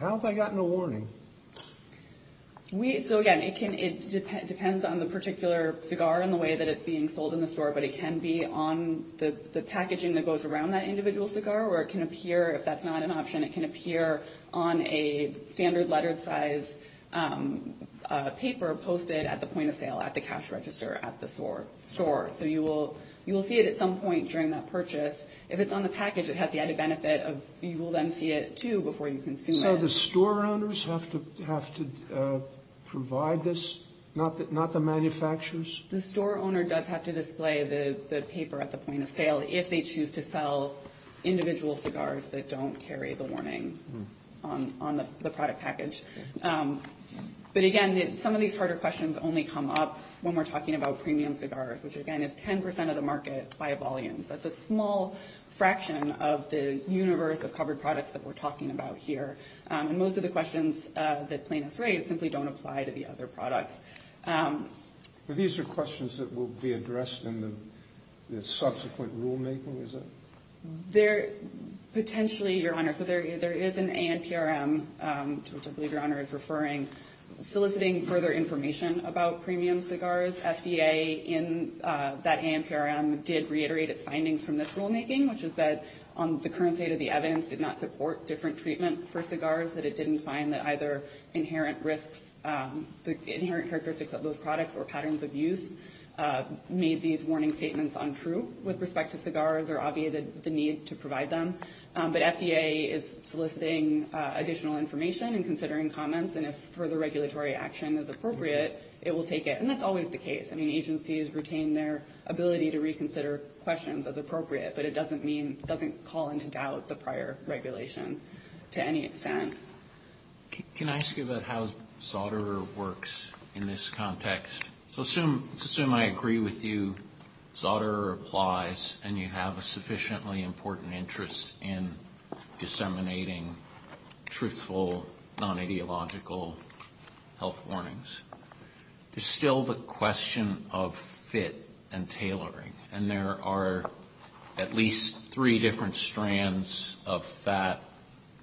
how have I gotten a warning? So, again, it depends on the particular cigar and the way that it's being sold in the store. But it can be on the packaging that goes around that individual cigar, or it can appear – if that's not an option, it can appear on a standard letter size paper posted at the point of sale at the cash register at the store. So you will see it at some point during that purchase. If it's on the package, it has the added benefit of you will then see it too before you consume it. So the store owners have to provide this, not the manufacturers? The store owner does have to display the paper at the point of sale if they choose to sell individual cigars that don't carry the warning on the product package. But, again, some of these harder questions only come up when we're talking about premium cigars, which, again, is 10 percent of the market by volume. That's a small fraction of the universe of covered products that we're talking about here. And most of the questions that's being raised simply don't apply to the other products. These are questions that will be addressed in the subsequent rulemaking, is it? Potentially, Your Honor. So there is an ANPRM, which I believe Your Honor is referring, soliciting further information about premium cigars. FDA in that ANPRM did reiterate its findings from this rulemaking, which is that the current state of the evidence did not support different treatments for cigars, that it didn't find that either inherent characteristics of those products or patterns of use made these warning statements untrue with respect to cigars or obviated the need to provide them. But FDA is soliciting additional information and considering comments, and if further regulatory action is appropriate, it will take it. And that's always the case. I mean, agencies retain their ability to reconsider questions as appropriate, but it doesn't call into doubt the prior regulation to any extent. Can I ask you about how SAUDERER works in this context? So assume I agree with you, SAUDERER applies, and you have a sufficiently important interest in disseminating truthful, non-ideological health warnings. It's still the question of fit and tailoring, and there are at least three different strands of that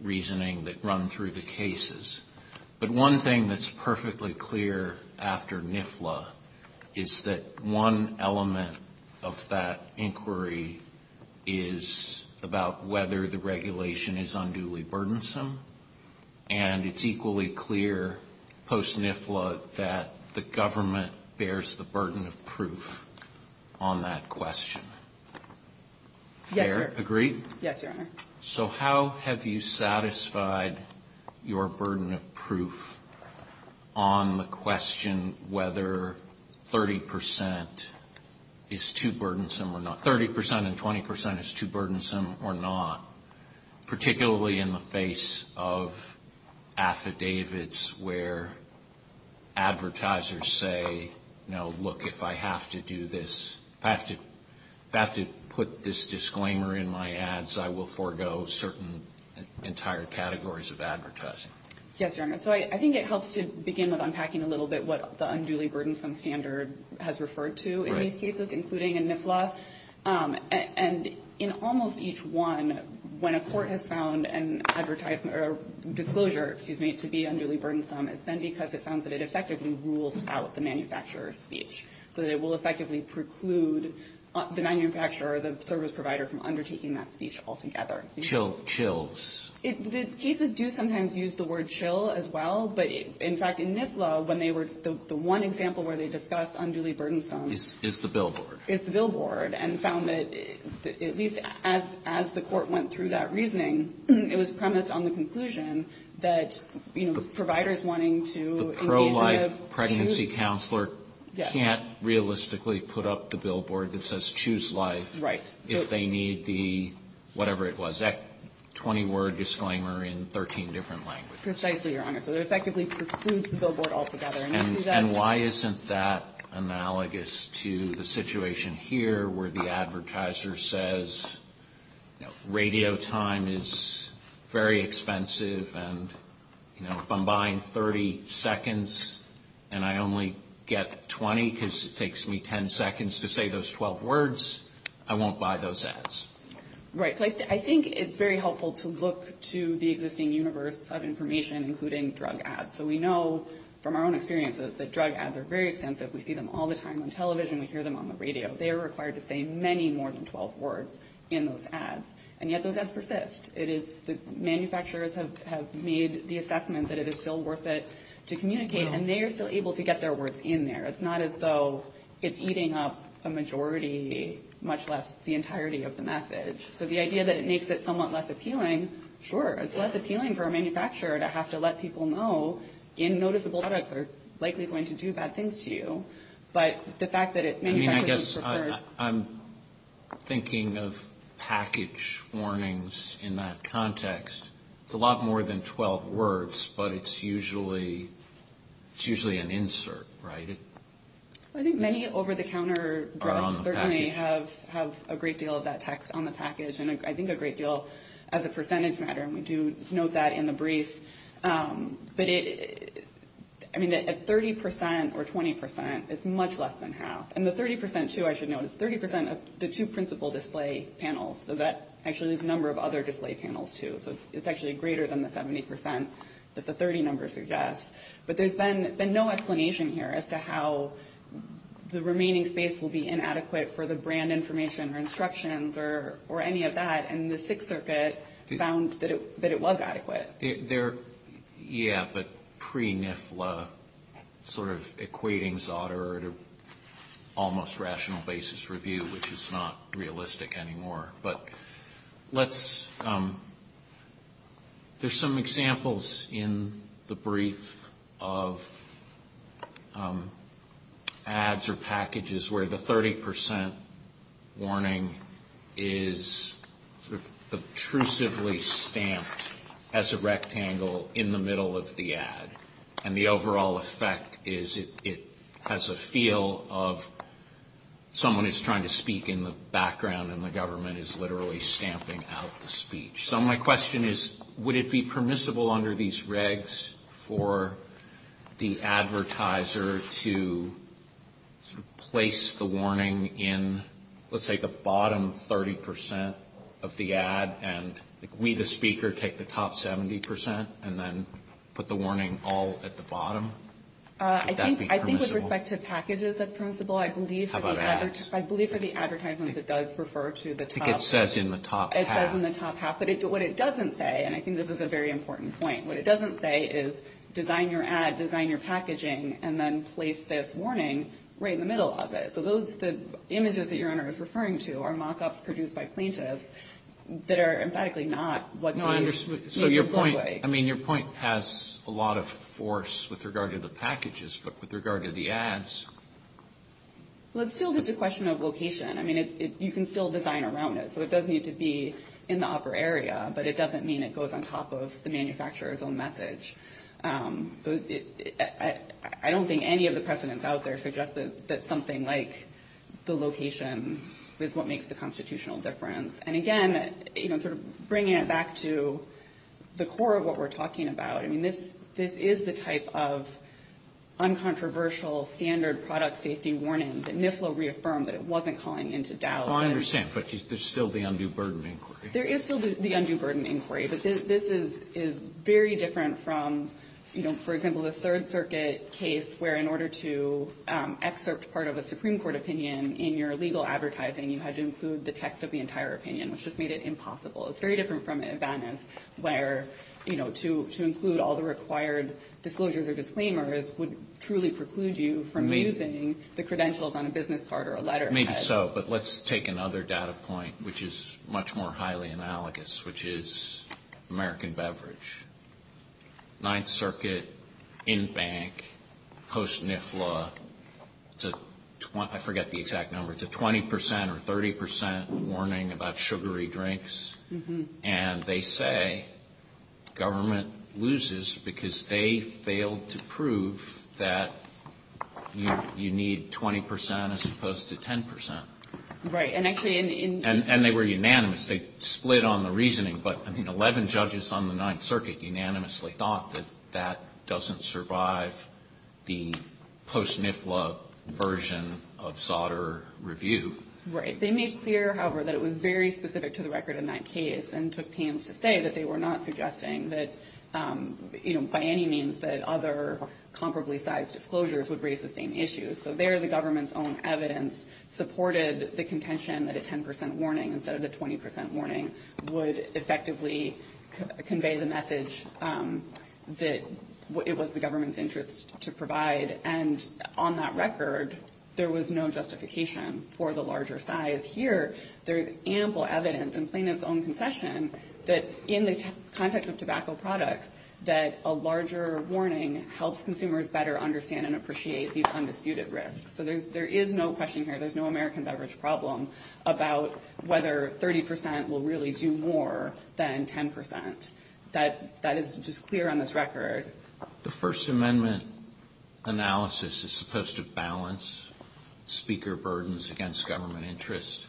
reasoning that run through the cases. But one thing that's perfectly clear after NIFLA is that one element of that inquiry is about whether the regulation is unduly burdensome, and it's equally clear post-NIFLA that the government bears the burden of proof on that question. Yes, Your Honor. Agree? Yes, Your Honor. So how have you satisfied your burden of proof on the question whether 30% is too burdensome or not? Particularly in the face of affidavits where advertisers say, you know, look, if I have to do this, if I have to put this disclaimer in my ads, I will forego certain entire categories of advertising. Yes, Your Honor. So I think it helps to begin with unpacking a little bit what the unduly burdensome standard has referred to in these cases, including in NIFLA. And in almost each one, when a court has found a disclosure to be unduly burdensome, it's then because it sounds that it effectively rules out the manufacturer's speech, so that it will effectively preclude the manufacturer or the service provider from undertaking that speech altogether. Chills. Chills. The cases do sometimes use the word chill as well, but in fact, in NIFLA, the one example where they discuss unduly burdensome is the billboard. And they found that at least as the court went through that reasoning, it was premised on the conclusion that providers wanting to engage with... The pro-life pregnancy counselor can't realistically put up the billboard that says choose life. Right. If they need the whatever it was, 20-word disclaimer in 13 different languages. Precisely, Your Honor. So it effectively precludes the billboard altogether. And why isn't that analogous to the situation here where the advertiser says radio time is very expensive and if I'm buying 30 seconds and I only get 20 because it takes me 10 seconds to say those 12 words, I won't buy those ads. Right. I think it's very helpful to look to the existing universe of information, including drug ads. So we know from our own experiences that drug ads are very expensive. We see them all the time on television. We hear them on the radio. They are required to say many more than 12 words in those ads. And yet those ads persist. Manufacturers have made the assessment that it is still worth it to communicate, and they are still able to get their words in there. It's not as though it's eating up a majority, much less the entirety of the message. So the idea that it makes it somewhat less appealing, sure. It's less appealing for a manufacturer to have to let people know, in noticeable products they're likely going to do bad things to you. But the fact that it... I mean, I guess I'm thinking of package warnings in that context. It's a lot more than 12 words, but it's usually an insert, right? I think many over-the-counter drugs certainly have a great deal of that text on the package. I think a great deal as a percentage matter, and we do note that in the brief. I mean, at 30% or 20%, it's much less than half. And the 30%, too, I should note, is 30% of the two principal display panels. So that actually is a number of other display panels, too. So it's actually greater than the 70% that the 30 number suggests. But there's been no explanation here as to how the remaining space will be inadequate for the brand information or instructions or any of that. And the Sixth Circuit found that it was adequate. Yeah, but pre-NIFLA sort of equating Zotero to almost rational basis review, which is not realistic anymore. There's some examples in the brief of ads or packages where the 30% warning is obtrusively stamped as a rectangle in the middle of the ad. And the overall effect is it has a feel of someone is trying to speak in the background and the government is literally stamping out the speech. So my question is, would it be permissible under these regs for the advertiser to place the warning in, let's say, the bottom 30% of the ad and we, the speaker, take the top 70% and then put the warning all at the bottom? I think with respect to packages, that's permissible. How about ads? I believe for the advertisements, it does refer to the top. I think it says in the top half. It says in the top half. But what it doesn't say, and I think this is a very important point, what it doesn't say is design your ad, design your packaging, and then place this warning right in the middle of it. So the images that your interviewer is referring to are mock-ups produced by plaintiffs that are emphatically not what they used to look like. I mean, your point has a lot of force with regard to the packages, but with regard to the ads. Well, it's still just a question of location. I mean, you can still design around it, so it does need to be in the upper area, but it doesn't mean it goes on top of the manufacturer's own message. I don't think any of the precedents out there suggests that something like the location is what makes the constitutional difference. And again, you know, sort of bringing it back to the core of what we're talking about, I mean, this is the type of uncontroversial standard product safety warning that NIFLA reaffirmed that it wasn't calling into doubt. I understand, but there's still the undue burden of inquiry. There is still the undue burden of inquiry, but this is very different from, you know, for example, the Third Circuit case where in order to excerpt part of a Supreme Court opinion in your legal advertising, you had to include the text of the entire opinion, which just made it impossible. It's very different from in Venice where, you know, to include all the required disclosures or disclaimers would truly preclude you from using the credentials on a business card or a letter. Maybe so, but let's take another data point, which is much more highly analogous, which is American beverage. Ninth Circuit, in-bank, post-NIFLA, I forget the exact number, sent a 20% or 30% warning about sugary drinks, and they say government loses because they failed to prove that you need 20% as opposed to 10%. Right, and actually in... And they were unanimous. They split on the reasoning, but, I mean, 11 judges on the Ninth Circuit unanimously thought that that doesn't survive the post-NIFLA version of Sauter review. Right. They made clear, however, that it was very specific to the record in that case and took pains to say that they were not suggesting that, you know, by any means that other comparably sized disclosures would raise the same issues. So there the government's own evidence supported the contention that a 10% warning instead of the 20% warning would effectively convey the message that it was the government's interest to provide. And on that record, there was no justification for the larger size. Here, there is ample evidence, and Plano's own concession, that in the context of tobacco products, that a larger warning helps consumers better understand and appreciate these undisputed risks. So there is no question here. There's no American beverage problem about whether 30% will really do more than 10%. That is just clear on this record. The First Amendment analysis is supposed to balance speaker burdens against government interest.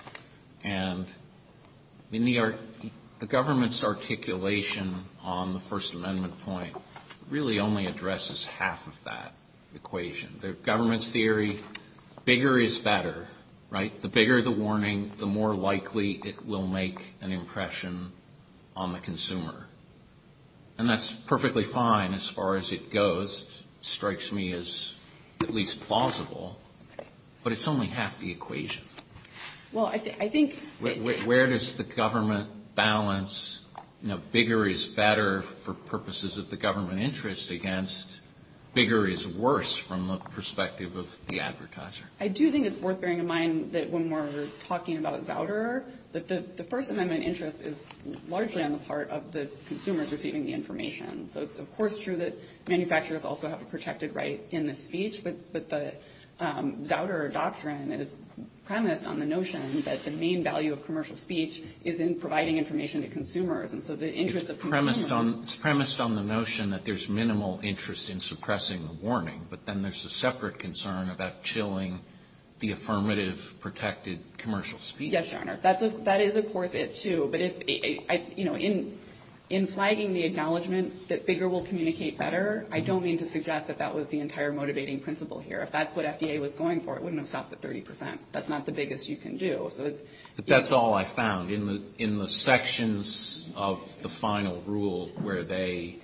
And the government's articulation on the First Amendment point really only addresses half of that equation. The government's theory, bigger is better, right? The bigger the warning, the more likely it will make an impression on the consumer. And that's perfectly fine as far as it goes. It strikes me as at least plausible. But it's only half the equation. Well, I think... Where does the government balance, you know, bigger is better for purposes of the government interest against bigger is worse from the perspective of the advertiser? I do think it's worth bearing in mind that when we're talking about Zouder, that the First Amendment interest is largely on the part of the consumers receiving the information. So it's, of course, true that manufacturers also have a protected right in the speech, but the Zouder doctrine is premised on the notion that the main value of commercial speech is in providing information to consumers. It's premised on the notion that there's minimal interest in suppressing the warning, but then there's a separate concern about chilling the affirmative protected commercial speech. Yes, Your Honor. That is, of course, it, too. But, you know, in flagging the acknowledgments that bigger will communicate better, I don't mean to suggest that that was the entire motivating principle here. If that's what FDA was going for, it wouldn't have stopped at 30 percent. But that's all I found. In the sections of the final rule where they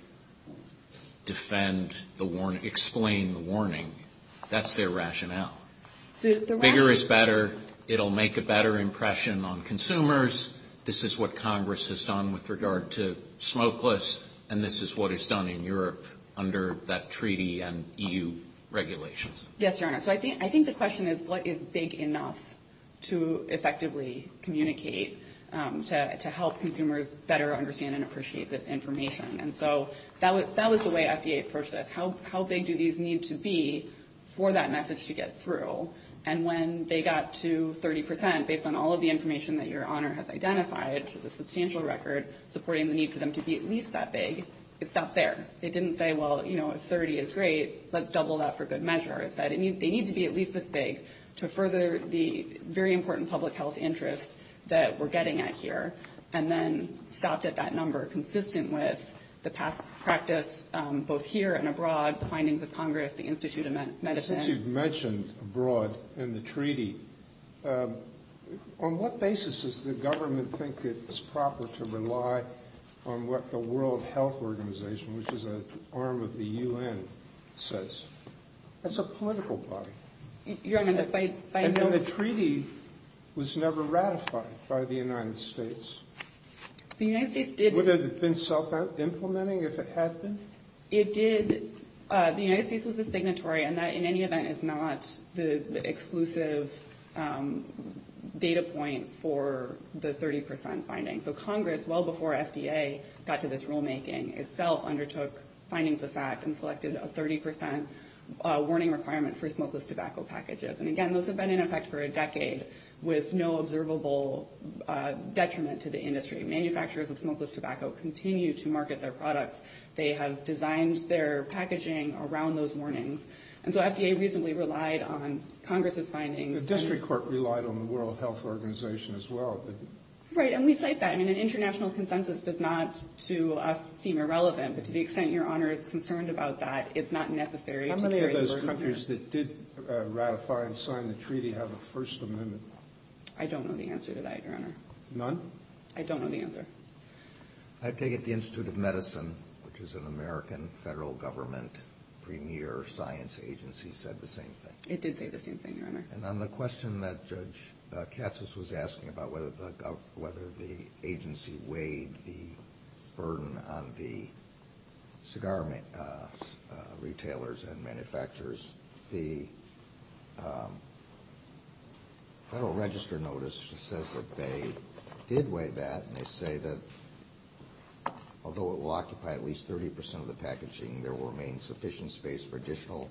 defend the warning, explain the warning, that's their rationale. Bigger is better. It'll make a better impression on consumers. This is what Congress has done with regard to smokeless, and this is what is done in Europe under that treaty and EU regulations. Yes, Your Honor. So I think the question is, what is big enough to effectively communicate to help consumers better understand and appreciate this information? And so that was the way FDA approached this. How big do these need to be for that message to get through? And when they got to 30 percent, based on all of the information that Your Honor has identified, which is a substantial record, supporting the need for them to be at least that big, it stopped there. They didn't say, well, you know, if 30 is great, let's double that for good measure. It said they need to be at least this big to further the very important public health interest that we're getting at here, and then stopped at that number, consistent with the past practice both here and abroad, the findings of Congress, the Institute of Medicine. Since you've mentioned abroad and the treaty, on what basis does the government think it is proper to rely on what the World Health Organization, which is an arm of the UN, says? That's a political party. Your Honor, I know the treaty was never ratified by the United States. Would it have been self-implementing if it had been? It did. The United States was the signatory, and that in any event is not the exclusive data point for the 30 percent finding. So Congress, well before FDA got to this rulemaking, itself undertook findings of facts and selected a 30 percent warning requirement for smokeless tobacco packages. And again, those have been in effect for a decade with no observable detriment to the industry. Manufacturers of smokeless tobacco continue to market their products. They have designed their packaging around those warnings. And so FDA recently relied on Congress's findings. The district court relied on the World Health Organization as well. Right, and we cite that. I mean, an international consensus does not to us seem irrelevant, but to the extent Your Honor is concerned about that, it's not necessary. How many of those countries that did ratify and sign the treaty have a First Amendment? I don't know the answer to that, Your Honor. None? I don't know the answer. I take it the Institute of Medicine, which is an American federal government premier science agency, said the same thing. It did say the same thing, Your Honor. And on the question that Judge Katsos was asking about whether the agency weighed the burden on the cigar retailers and manufacturers, the Federal Register notice says that they did weigh that, and they say that although it will occupy at least 30 percent of the packaging, there will remain sufficient space for additional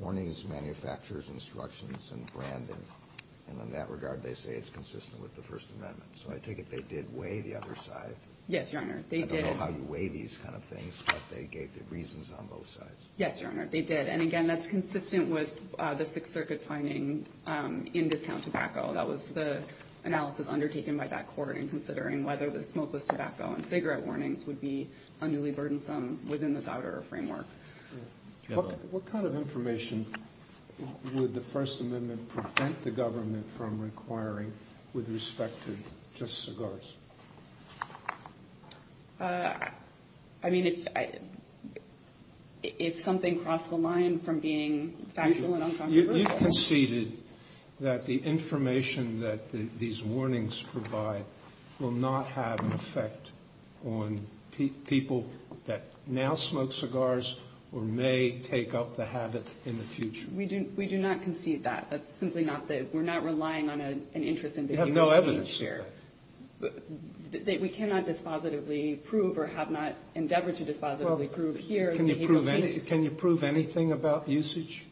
warnings, manufacturers, instructions, and branding. And in that regard, they say it's consistent with the First Amendment. So I take it they did weigh the other side. Yes, Your Honor, they did. I don't know how you weigh these kind of things, but they gave the reasons on both sides. Yes, Your Honor, they did. And again, that's consistent with the Sixth Circuit's finding in discount tobacco. That was the analysis undertaken by that court in considering whether the smokeless tobacco and cigarette warnings would be unduly burdensome within this outer framework. What kind of information would the First Amendment prevent the government from requiring with respect to just cigars? I mean, it's something across the line from being factual and unconstitutional. You conceded that the information that these warnings provide will not have an effect on people that now smoke cigars or may take up the habit in the future. We do not concede that. That's simply not the case. We're not relying on an interest in the future. You have no evidence here. We cannot dispositively prove or have not endeavored to dispositively prove here. Can you prove anything about the usage?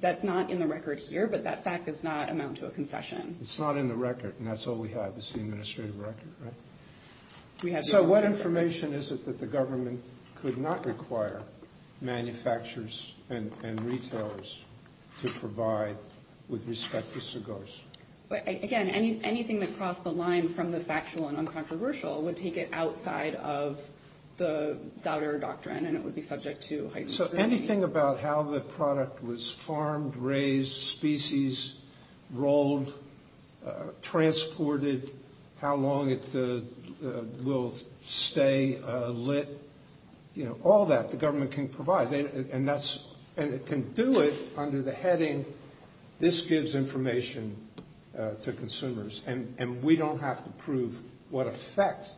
That's not in the record here, but that fact does not amount to a concession. It's not in the record, and that's all we have is the administrative record, right? So what information is it that the government could not require manufacturers and retailers to provide with respect to cigars? Again, anything that crossed the line from the factual and uncontroversial would take it outside of the doubter doctrine, and it would be subject to heightened scrutiny. So anything about how the product was farmed, raised, species rolled, transported, how long it will stay lit, all that the government can provide. And it can do it under the heading, this gives information to consumers, and we don't have to prove what effect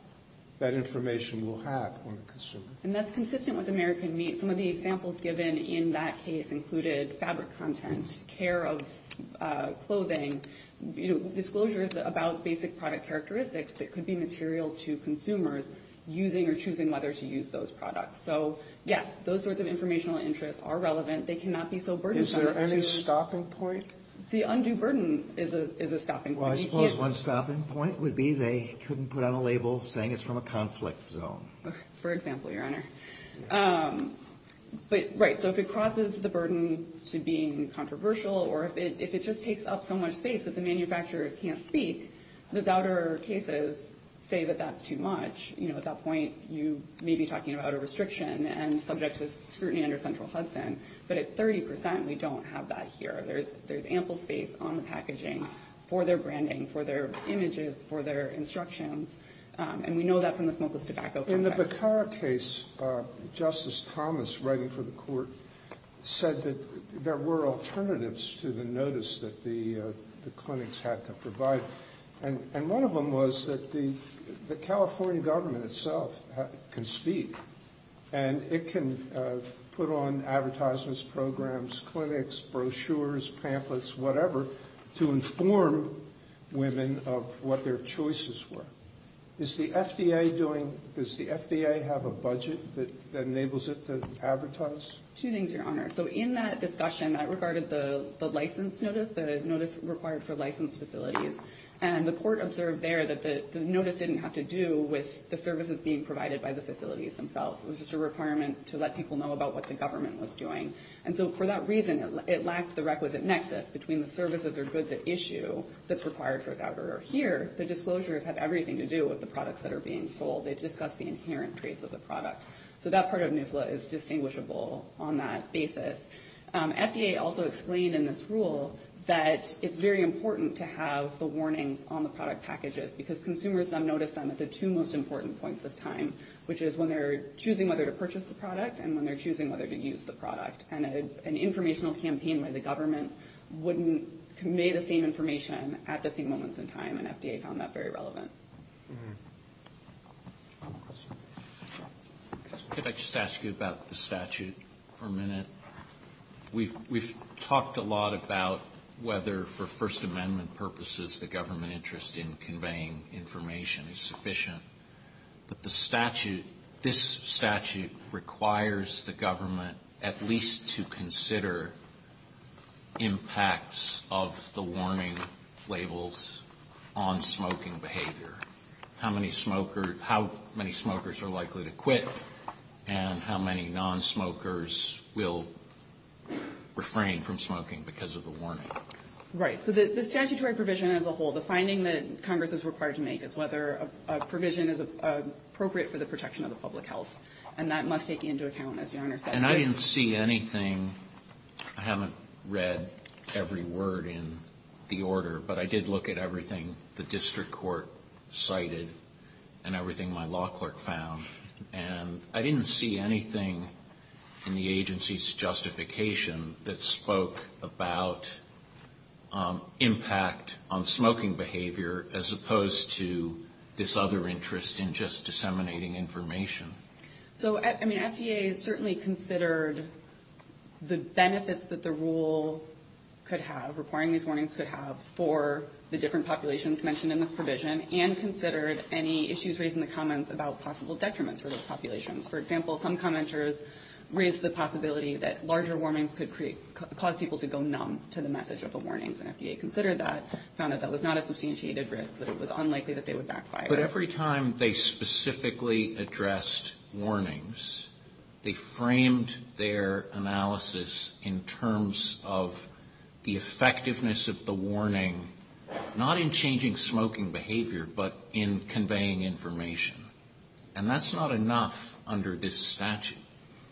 that information will have on the consumer. And that's consistent with American Meat. Some of the examples given in that case included fabric content, care of clothing, disclosures about basic product characteristics that could be material to consumers using or choosing whether to use those products. So, yes, those sorts of informational interests are relevant. They cannot be so burdensome. Is there any stopping point? See, undue burden is a stopping point. Well, I suppose one stopping point would be they couldn't put on a label saying it's from a conflict zone. For example, Your Honor. But, right, so if it causes the burden to being controversial or if it just takes up so much space that the manufacturers can't speak, the doubter cases say that that's too much. At that point, you may be talking about a restriction and subject to scrutiny under Central Hudson. But at 30 percent, we don't have that here. There's ample space on the packaging for their branding, for their images, for their instructions. And we know that from the smokeless tobacco contract. In the Bacara case, Justice Thomas, writing for the court, said that there were alternatives to the notice that the clinics had to provide. And one of them was that the California government itself can speak. And it can put on advertisements, programs, clinics, brochures, pamphlets, whatever, to inform women of what their choices were. Does the FDA have a budget that enables it to advertise? Two things, Your Honor. So in that discussion, that regarded the license notice, the notice required for licensed facilities. And the court observed there that the notice didn't have to do with the services being provided by the facilities themselves. It was just a requirement to let people know about what the government was doing. And so for that reason, it lacks the requisite nexus between the services or goods at issue that's required for a governor. Here, the disclosures have everything to do with the products that are being sold. They discuss the inherent traits of the product. So that part of NUSLA is distinguishable on that basis. FDA also explained in this rule that it's very important to have the warning on the product packages, because consumers then notice them at the two most important points of time, which is when they're choosing whether to purchase the product and when they're choosing whether to use the product. And an informational campaign where the government wouldn't convey the same information at the same moments in time, and FDA found that very relevant. Could I just ask you about the statute for a minute? We've talked a lot about whether, for First Amendment purposes, the government interest in conveying information is sufficient. But this statute requires the government at least to consider impacts of the warning labels on smoking behavior, how many smokers are likely to quit, and how many nonsmokers will refrain from smoking because of the warning. Right. So the statutory provision as a whole, the finding that Congress is required to make, is whether a provision is appropriate for the protection of the public health. And that must take into account, as the owner said. And I didn't see anything. I haven't read every word in the order, but I did look at everything the district court cited and everything my law clerk found. And I didn't see anything in the agency's justification that spoke about impact on smoking behavior, as opposed to this other interest in just disseminating information. So, I mean, FDA certainly considered the benefits that the rule could have, requiring this warning could have for the different populations mentioned in this provision, and considered any issues raised in the comments about possible detriment to those populations. For example, some commenters raised the possibility that larger warnings could cause people to go numb to the message of the warnings. And FDA considered that, found that that was not a substantiated risk, that it was unlikely that they would backfire. But every time they specifically addressed warnings, they framed their analysis in terms of the effectiveness of the warning, not in changing smoking behavior, but in conveying information. And that's not enough under this statute.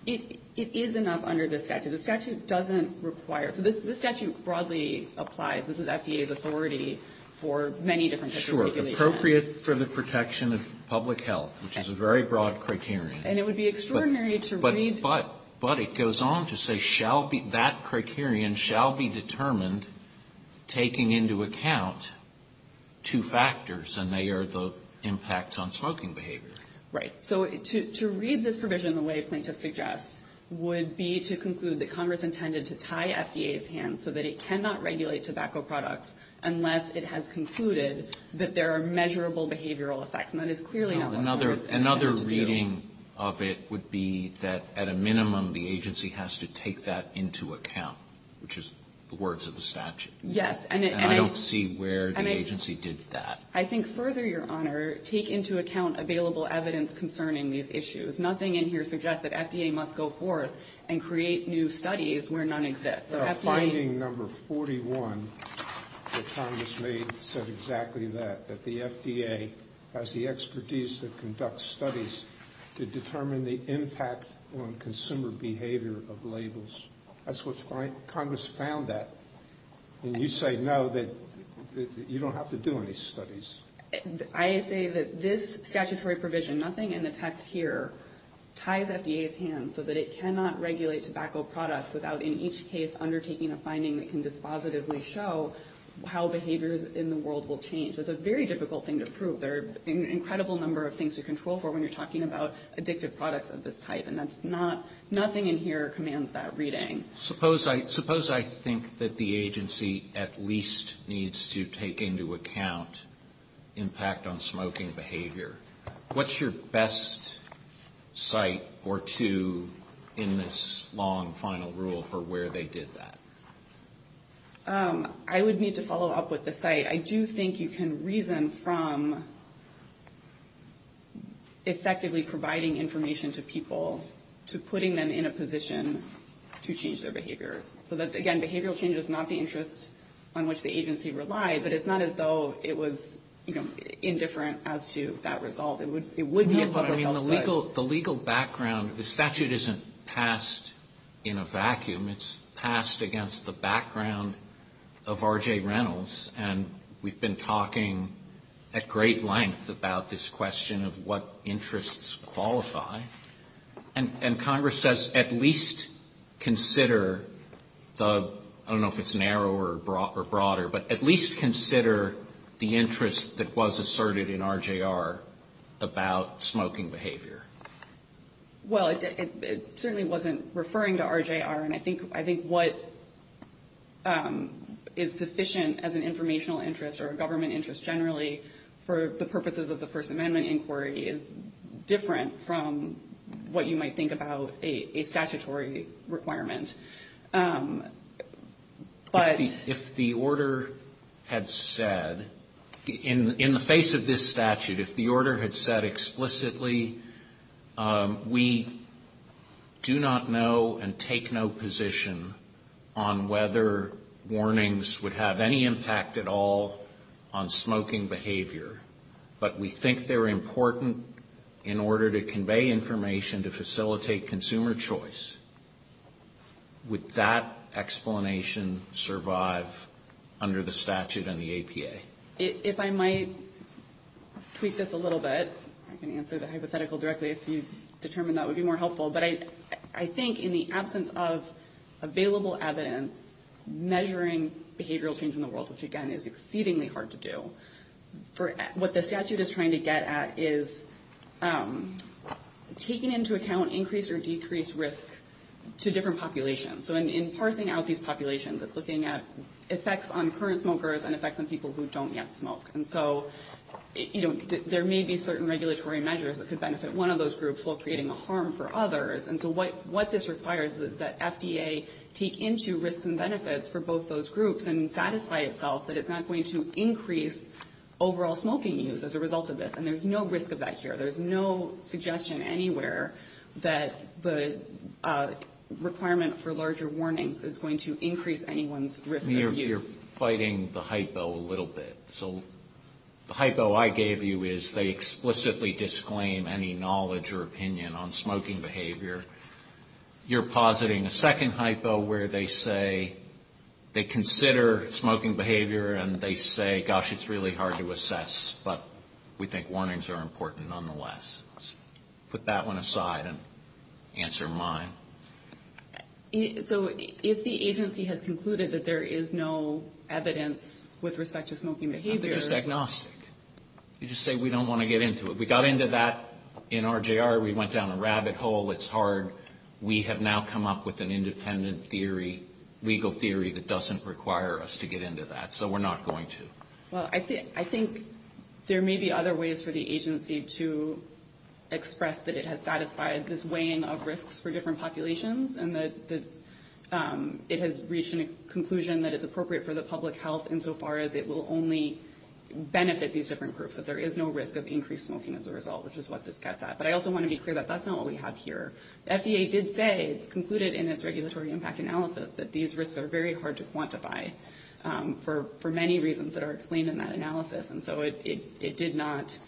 It is enough under this statute. The statute doesn't require. This statute broadly applies. This is FDA's authority for many different types of populations. Sure. Appropriate for the protection of public health, which is a very broad criterion. And it would be extraordinary to read. But it goes on to say, that criterion shall be determined, taking into account two factors, and they are the impact on smoking behavior. Right. So, to read this provision the way plaintiffs suggest would be to conclude that Congress intended to tie FDA's hands so that it cannot regulate tobacco products unless it has concluded that there are measurable behavioral effects. Another reading of it would be that, at a minimum, the agency has to take that into account, which is the words of the statute. Yes. And I don't see where the agency did that. I think further, Your Honor, take into account available evidence concerning these issues. Nothing in here suggests that FDA must go forth and create new studies where none exist. The finding number 41 that Congress made said exactly that, that the FDA has the expertise to conduct studies to determine the impact on consumer behavior of labels. That's what Congress found that. And you say, no, that you don't have to do any studies. I say that this statutory provision, nothing in the text here, ties FDA's hands so that it cannot regulate tobacco products without, in each case, undertaking a finding that can dispositively show how behaviors in the world will change. It's a very difficult thing to prove. There are an incredible number of things to control for when you're talking about addictive products of this type, and nothing in here commands that reading. Suppose I think that the agency at least needs to take into account impact on smoking behavior. What's your best site or two in this long final rule for where they did that? I would need to follow up with the site. I do think you can reason from effectively providing information to people to putting them in a position to change their behavior. Again, behavioral change is not the interest on which the agency relies, but it's not as though it was indifferent as to that result. The legal background, the statute isn't passed in a vacuum. It's passed against the background of R.J. Reynolds, and we've been talking at great length about this question of what interests qualify. And Congress says at least consider the, I don't know if it's narrow or broader, but at least consider the interest that was asserted in R.J.R. about smoking behavior. Well, it certainly wasn't referring to R.J.R., and I think what is sufficient as an informational interest or a government interest generally for the purposes of the First Amendment inquiry is different from what you might think about a statutory requirement. If the order had said, in the face of this statute, if the order had said explicitly, we do not know and take no position on whether warnings would have any impact at all on smoking behavior, but we think they're important in order to convey information to facilitate consumer choice, would that explanation survive under the statute and the APA? If I might tweak this a little bit, I can answer the hypothetical directly, if you determine that would be more helpful, but I think in the absence of available evidence measuring behavioral change in the world, which, again, is exceedingly hard to do, what the statute is trying to get at is taking into account increased or decreased risk to different populations. So in parsing out these populations, it's looking at effects on current smokers and effects on people who don't yet smoke. And so there may be certain regulatory measures that could benefit one of those groups while creating harm for others, and so what this requires is that FDA take into risk and benefits for both those groups and satisfy itself that it's not going to increase overall smoking use as a result of this, and there's no risk of that here. There's no suggestion anywhere that the requirement for larger warnings is going to increase anyone's risk of use. You're fighting the hypo a little bit. So the hypo I gave you is they explicitly disclaim any knowledge or opinion on smoking behavior. You're positing a second hypo where they say they consider smoking behavior and they say, gosh, it's really hard to assess, but we think warnings are important nonetheless. Put that one aside and answer mine. So if the agency has concluded that there is no evidence with respect to smoking behavior... I'm just agnostic. You just say we don't want to get into it. We got into that in RJR. We went down a rabbit hole. It's hard. We have now come up with an independent theory, legal theory, that doesn't require us to get into that, so we're not going to. Well, I think there may be other ways for the agency to express that it has satisfied this weighing of risks for different populations and that it has reached a conclusion that it's appropriate for the public health insofar as it will only benefit these different groups, that there is no risk of increased smoking as a result, which is what this gets at. But I also want to be clear that that's not what we have here. The FDA did say, it concluded in its regulatory impact analysis, that these risks are very hard to quantify for many reasons that are explained in that analysis, and so it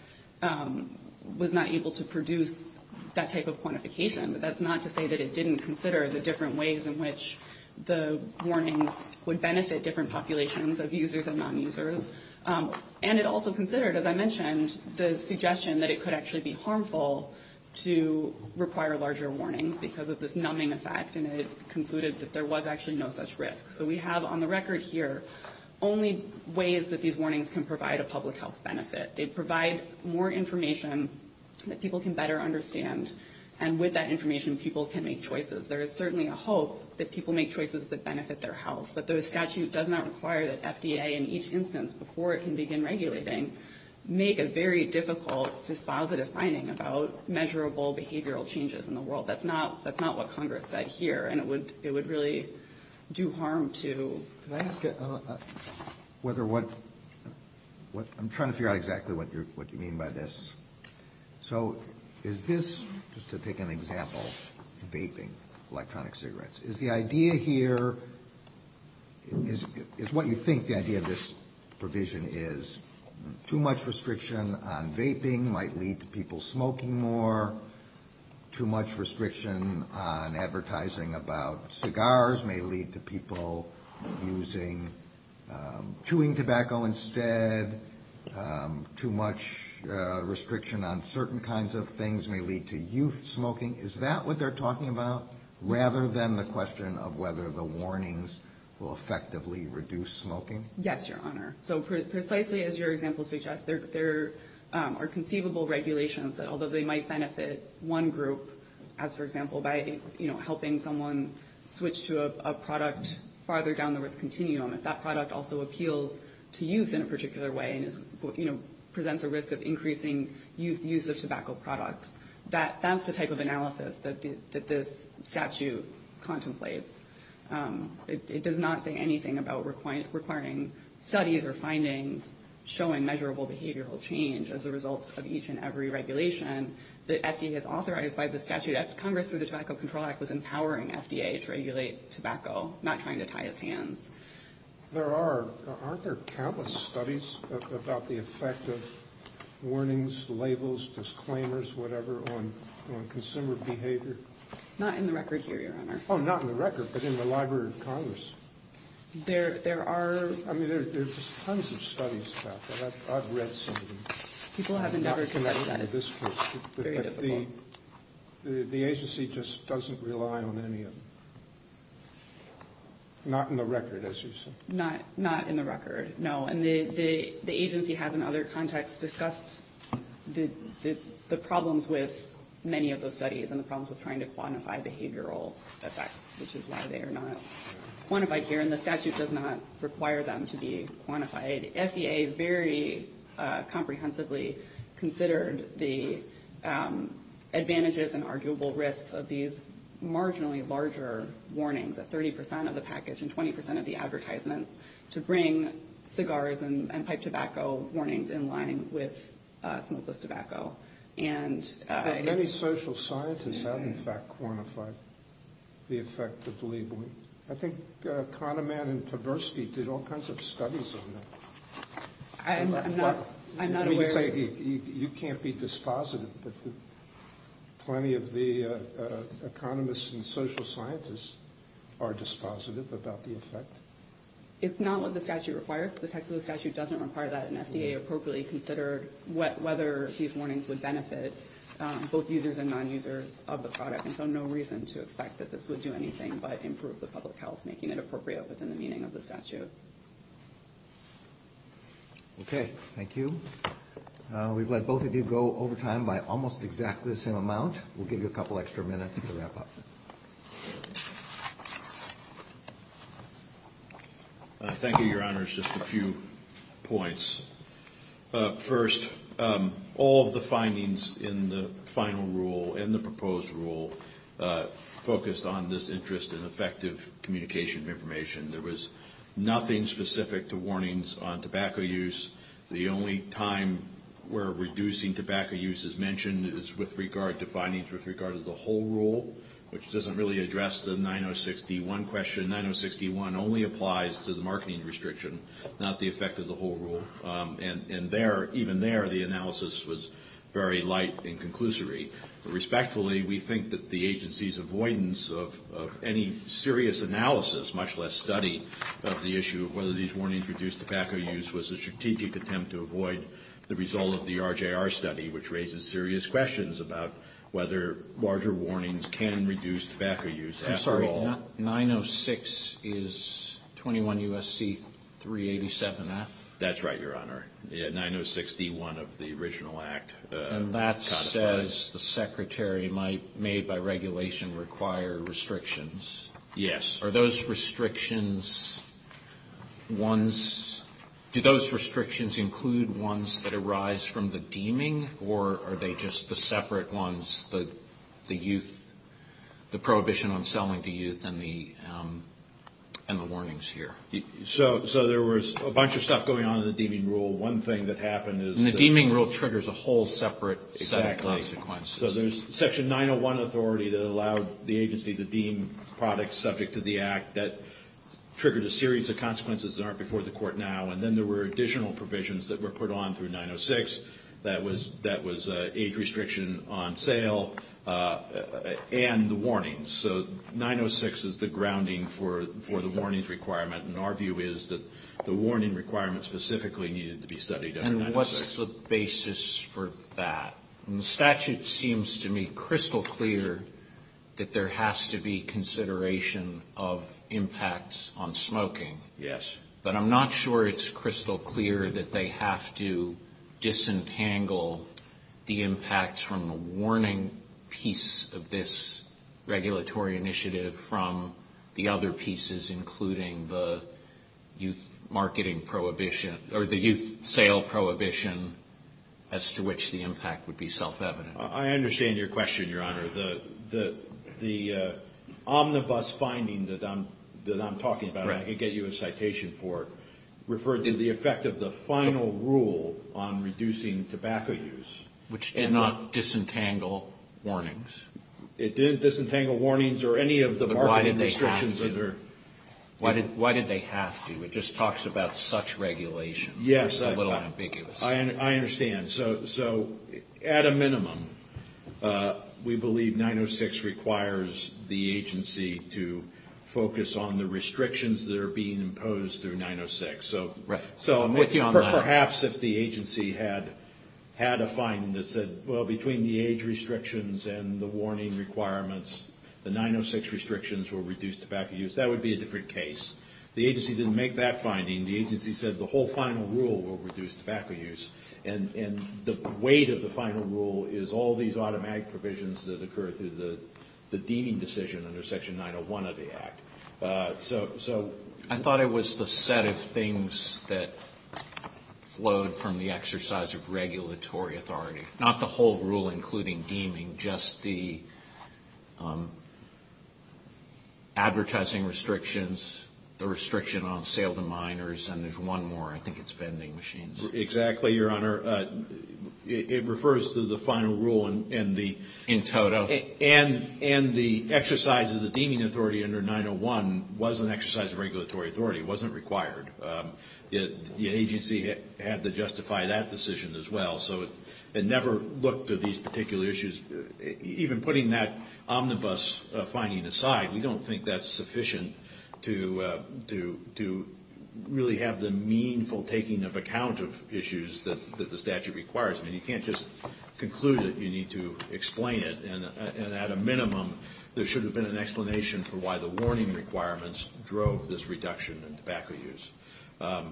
was not able to produce that type of quantification. But that's not to say that it didn't consider the different ways in which the warnings would benefit different populations of users and non-users. And it also considered, as I mentioned, the suggestion that it could actually be harmful to require larger warnings because of this numbing effect, and it concluded that there was actually no such risk. So we have on the record here only ways that these warnings can provide a public health benefit. It provides more information that people can better understand, and with that information, people can make choices. There is certainly a hope that people make choices that benefit their health, but the statute does not require that FDA, in each instance, before it can begin regulating, make a very difficult, dispositive finding about measurable behavioral changes in the world. That's not what Congress said here, and it would really do harm to... I'm trying to figure out exactly what you mean by this. So is this, just to take an example, vaping, electronic cigarettes. Is the idea here, is what you think the idea of this provision is, too much restriction on vaping might lead to people smoking more, too much restriction on advertising about cigars may lead to people using, chewing tobacco instead, too much restriction on certain kinds of things may lead to youth smoking. Is that what they're talking about, rather than the question of whether the warnings will effectively reduce smoking? Yes, Your Honor. So precisely as your example suggests, there are conceivable regulations that, although they might benefit one group, as for example, by helping someone switch to a product farther down the risk continuum, if that product also appeals to youth in a particular way, and presents a risk of increasing use of tobacco products, that's the type of analysis that this statute contemplates. It does not say anything about requiring studies or findings showing measurable behavioral change as a result of each and every regulation that FDA has authorized by the statute. Congress through the Tobacco Control Act was empowering FDA to regulate tobacco, not trying to tie its hands. There are, aren't there countless studies about the effect of warnings, labels, disclaimers, whatever, on consumer behavior? Not in the record here, Your Honor. Oh, not in the record, but in the Library of Congress. There are, I mean, there's tons of studies about that. I've read some of them. People have never committed that at this point. The agency just doesn't rely on any of them. Not in the record, as you say. Not in the record, no. And the agency has, in other contexts, discussed the problems with many of those studies and the problems with trying to quantify behavioral effects, which is why they are not quantified here, and the statute does not require them to be quantified. FDA very comprehensively considered the advantages and arguable risks of these marginally larger warnings, the 30 percent of the package and 20 percent of the advertisements, to bring cigars and pipe tobacco warnings in line with smokeless tobacco. But many social scientists have, in fact, quantified the effect of the label. I think Kahneman and Tversky did all kinds of studies on that. I'm not aware. You can't be dispositive, but plenty of the economists and social scientists are dispositive about the effect. It's not what the statute requires. The text of the statute doesn't require that an FDA appropriately consider whether these warnings would benefit both users and non-users of the product, and so no reason to expect that this would do anything but improve the public health, making it appropriate within the meaning of the statute. Okay. Thank you. We've let both of you go over time by almost exactly the same amount. We'll give you a couple extra minutes to wrap up. Thank you, Your Honors. Just a few points. First, all of the findings in the final rule and the proposed rule focused on this interest in effective communication of information. There was nothing specific to warnings on tobacco use. The only time where reducing tobacco use is mentioned is with regard to findings with regard to the whole rule, which doesn't really address the 9061 question. The 9061 only applies to the marketing restriction, not the effect of the whole rule, and even there the analysis was very light and conclusory. Respectfully, we think that the agency's avoidance of any serious analysis, much less study of the issue of whether these warnings reduce tobacco use, was a strategic attempt to avoid the result of the RJR study, which raises serious questions about whether larger warnings can reduce tobacco use after all. I'm sorry, 906 is 21 U.S.C. 387-F? That's right, Your Honor. The 906-D1 of the original act. And that says the Secretary might, made by regulation, require restrictions. Yes. Are those restrictions ones, do those restrictions include ones that arise from the deeming, or are they just the separate ones, the youth, the prohibition on selling to youth and the warnings here? So there was a bunch of stuff going on in the deeming rule. One thing that happened is- The deeming rule triggers a whole separate set of consequences. Exactly. So there's Section 901 authority that allowed the agency to deem products subject to the act that triggers a series of consequences that aren't before the court now, and then there were additional provisions that were put on through 906 that was age restriction on sale and the warnings. So 906 is the grounding for the warnings requirement, and our view is that the warning requirements specifically needed to be studied under 906. And what's the basis for that? The statute seems to me crystal clear that there has to be consideration of impacts on smoking. Yes. But I'm not sure it's crystal clear that they have to disentangle the impacts from the warning piece of this regulatory initiative from the other pieces including the youth marketing prohibition or the youth sale prohibition as to which the impact would be self-evident. I understand your question, Your Honor. The omnibus finding that I'm talking about, I can get you a citation for it, referred to the effect of the final rule on reducing tobacco use. Which did not disentangle warnings. It didn't disentangle warnings or any of the marketing restrictions. Why did they have to? It just talks about such regulation. Yes. It's a little ambiguous. I understand. So, at a minimum, we believe 906 requires the agency to focus on the restrictions that are being imposed through 906. Right. So, I'm thinking perhaps if the agency had a finding that said, well, between the age restrictions and the warning requirements, the 906 restrictions will reduce tobacco use, that would be a different case. The agency didn't make that finding. The agency said the whole final rule will reduce tobacco use. And the weight of the final rule is all these automatic provisions that occur through the deeming decision under Section 901 of the Act. So, I thought it was the set of things that flowed from the exercise of regulatory authority. Not the whole rule, including deeming, just the advertising restrictions, the restriction on sale to minors, and there's one more, I think it's vending machines. Exactly, Your Honor. It refers to the final rule in total. And the exercise of the deeming authority under 901 was an exercise of regulatory authority. It wasn't required. The agency had to justify that decision as well. So, it never looked at these particular issues. Even putting that omnibus finding aside, we don't think that's sufficient to really have the meaningful taking of account of issues that the statute requires. I mean, you can't just conclude that you need to explain it. And at a minimum, there should have been an explanation for why the warning requirements drove this reduction in tobacco use. Of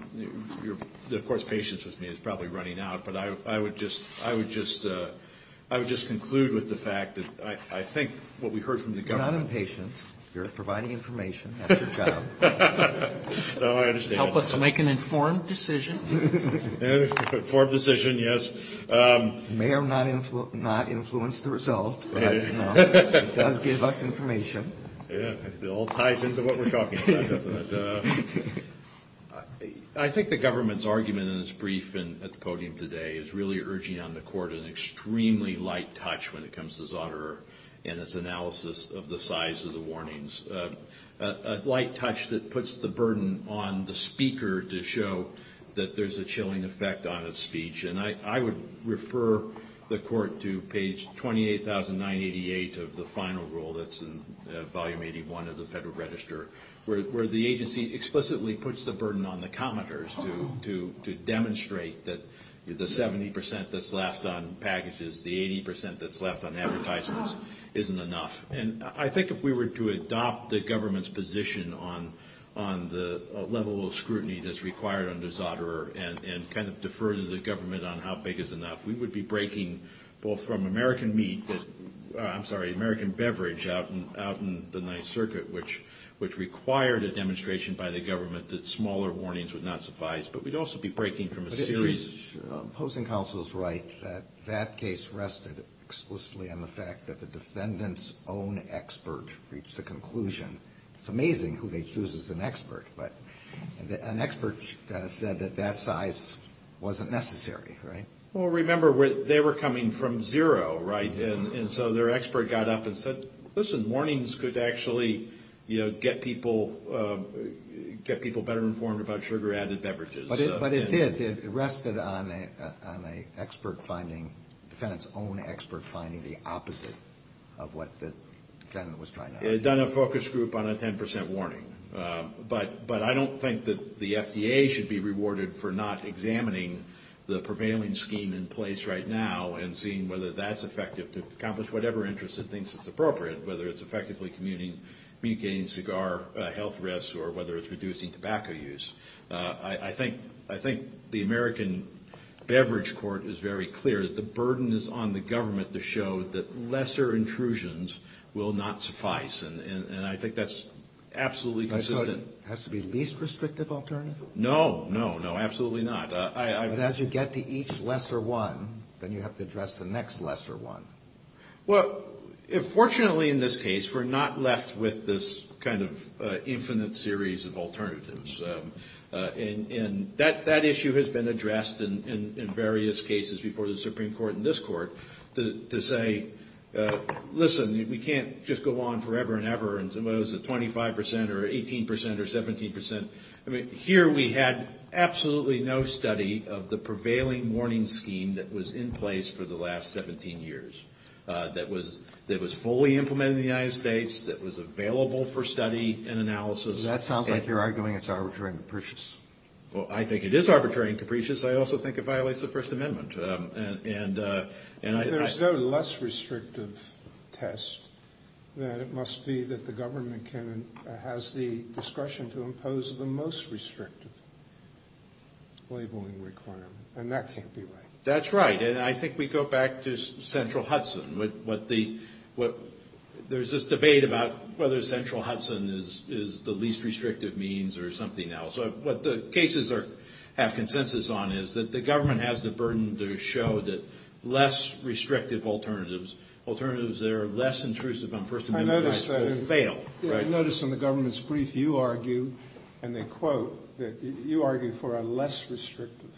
course, patience with me is probably running out, but I would just conclude with the fact that I think what we heard from the government... You're not impatient. You're providing information. That's your job. No, I understand. Help us make an informed decision. Informed decision, yes. You may or may not influence the result, but I do know it does give us information. It all ties into what we're talking about. I think the government's argument in its brief at the podium today is really urging on the court an extremely light touch when it comes to Zahnerer and its analysis of the size of the warnings. A light touch that puts the burden on the speaker to show that there's a chilling effect on his speech. And I would refer the court to page 28,988 of the final rule that's in Volume 81 of the Federal Register, where the agency explicitly puts the burden on the commenters to demonstrate that the 70 percent that's left on packages, the 80 percent that's left on advertisements, isn't enough. And I think if we were to adopt the government's position on the level of scrutiny that's required under Zahnerer and kind of defer to the government on how big is enough, we would be breaking both from American meat, I'm sorry, American beverage out in the Ninth Circuit, which required a demonstration by the government that smaller warnings would not suffice, but we'd also be breaking from a series... Well, opposing counsel's right that that case rested explicitly on the fact that the defendant's own expert reached a conclusion. It's amazing who they choose as an expert, but an expert said that that size wasn't necessary, right? Well, remember, they were coming from zero, right? And so their expert got up and said, listen, warnings could actually get people better informed about sugar-added beverages. But it did. It rested on an expert finding, the defendant's own expert finding the opposite of what the defendant was trying to... It had done a focus group on a 10 percent warning. But I don't think that the FDA should be rewarded for not examining the prevailing scheme in place right now and seeing whether that's effective to accomplish whatever interest it thinks is appropriate, whether it's effectively communicating cigar health risks or whether it's reducing tobacco use. I think the American beverage court is very clear that the burden is on the government to show that lesser intrusions will not suffice, and I think that's absolutely consistent. So it has to be the least restrictive alternative? No, no, no, absolutely not. But as you get to each lesser one, then you have to address the next lesser one. Well, fortunately in this case, we're not left with this kind of infinite series of alternatives. And that issue has been addressed in various cases before the Supreme Court and this court to say, listen, we can't just go on forever and ever and suppose that 25 percent or 18 percent or 17 percent... Here we had absolutely no study of the prevailing warning scheme that was in place for the last 17 years, that was fully implemented in the United States, that was available for study and analysis. That sounds like you're arguing it's arbitrary and capricious. Well, I think it is arbitrary and capricious. I also think it violates the First Amendment. There's no less restrictive test. It must be that the government has the discretion to impose the most restrictive labeling requirement, and that can't be right. That's right, and I think we go back to Central Hudson. There's this debate about whether Central Hudson is the least restrictive means or something else. What the cases have consensus on is that the government has the burden to show that less restrictive alternatives, alternatives that are less intrusive on First Amendment... I notice that in the government's brief, you argue, and then quote, that you argue for a less restrictive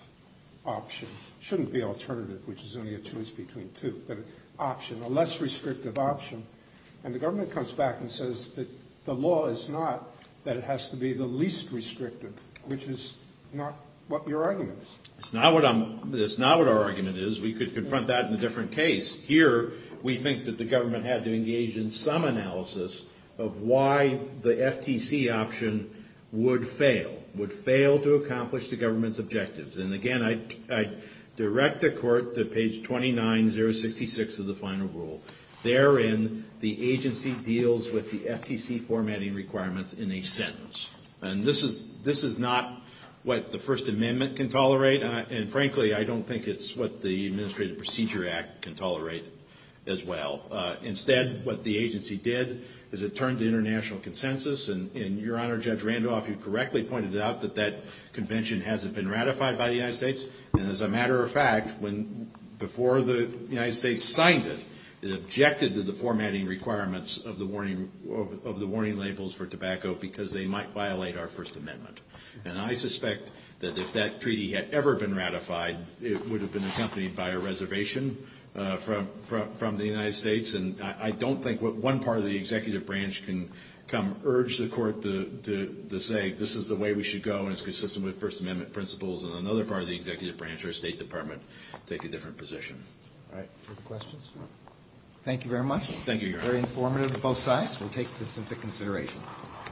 option. It shouldn't be alternative, which is only a choice between two, but an option, a less restrictive option. And the government comes back and says that the law is not that it has to be the least restrictive, which is not what you're arguing. That's not what our argument is. We could confront that in a different case. Here, we think that the government had to engage in some analysis of why the FTC option would fail, would fail to accomplish the government's objectives. And again, I direct the court to page 29066 of the final rule. Therein, the agency deals with the FTC formatting requirements in a sentence. And this is not what the First Amendment can tolerate, and frankly, I don't think it's what the Administrative Procedure Act can tolerate as well. Instead, what the agency did is it turned to international consensus, and Your Honor, Judge Randolph, you correctly pointed out that that convention hasn't been ratified by the United States. And as a matter of fact, before the United States signed it, it objected to the formatting requirements of the warning labels for tobacco because they might violate our First Amendment. And I suspect that if that treaty had ever been ratified, it would have been accompanied by a reservation from the United States. And I don't think what one part of the executive branch can come urge the court to say, this is the way we should go and it's consistent with First Amendment principles, and another part of the executive branch or State Department take a different position. All right. Any questions? Thank you very much. Thank you, Your Honor. Very informative on both sides. We'll take this into consideration.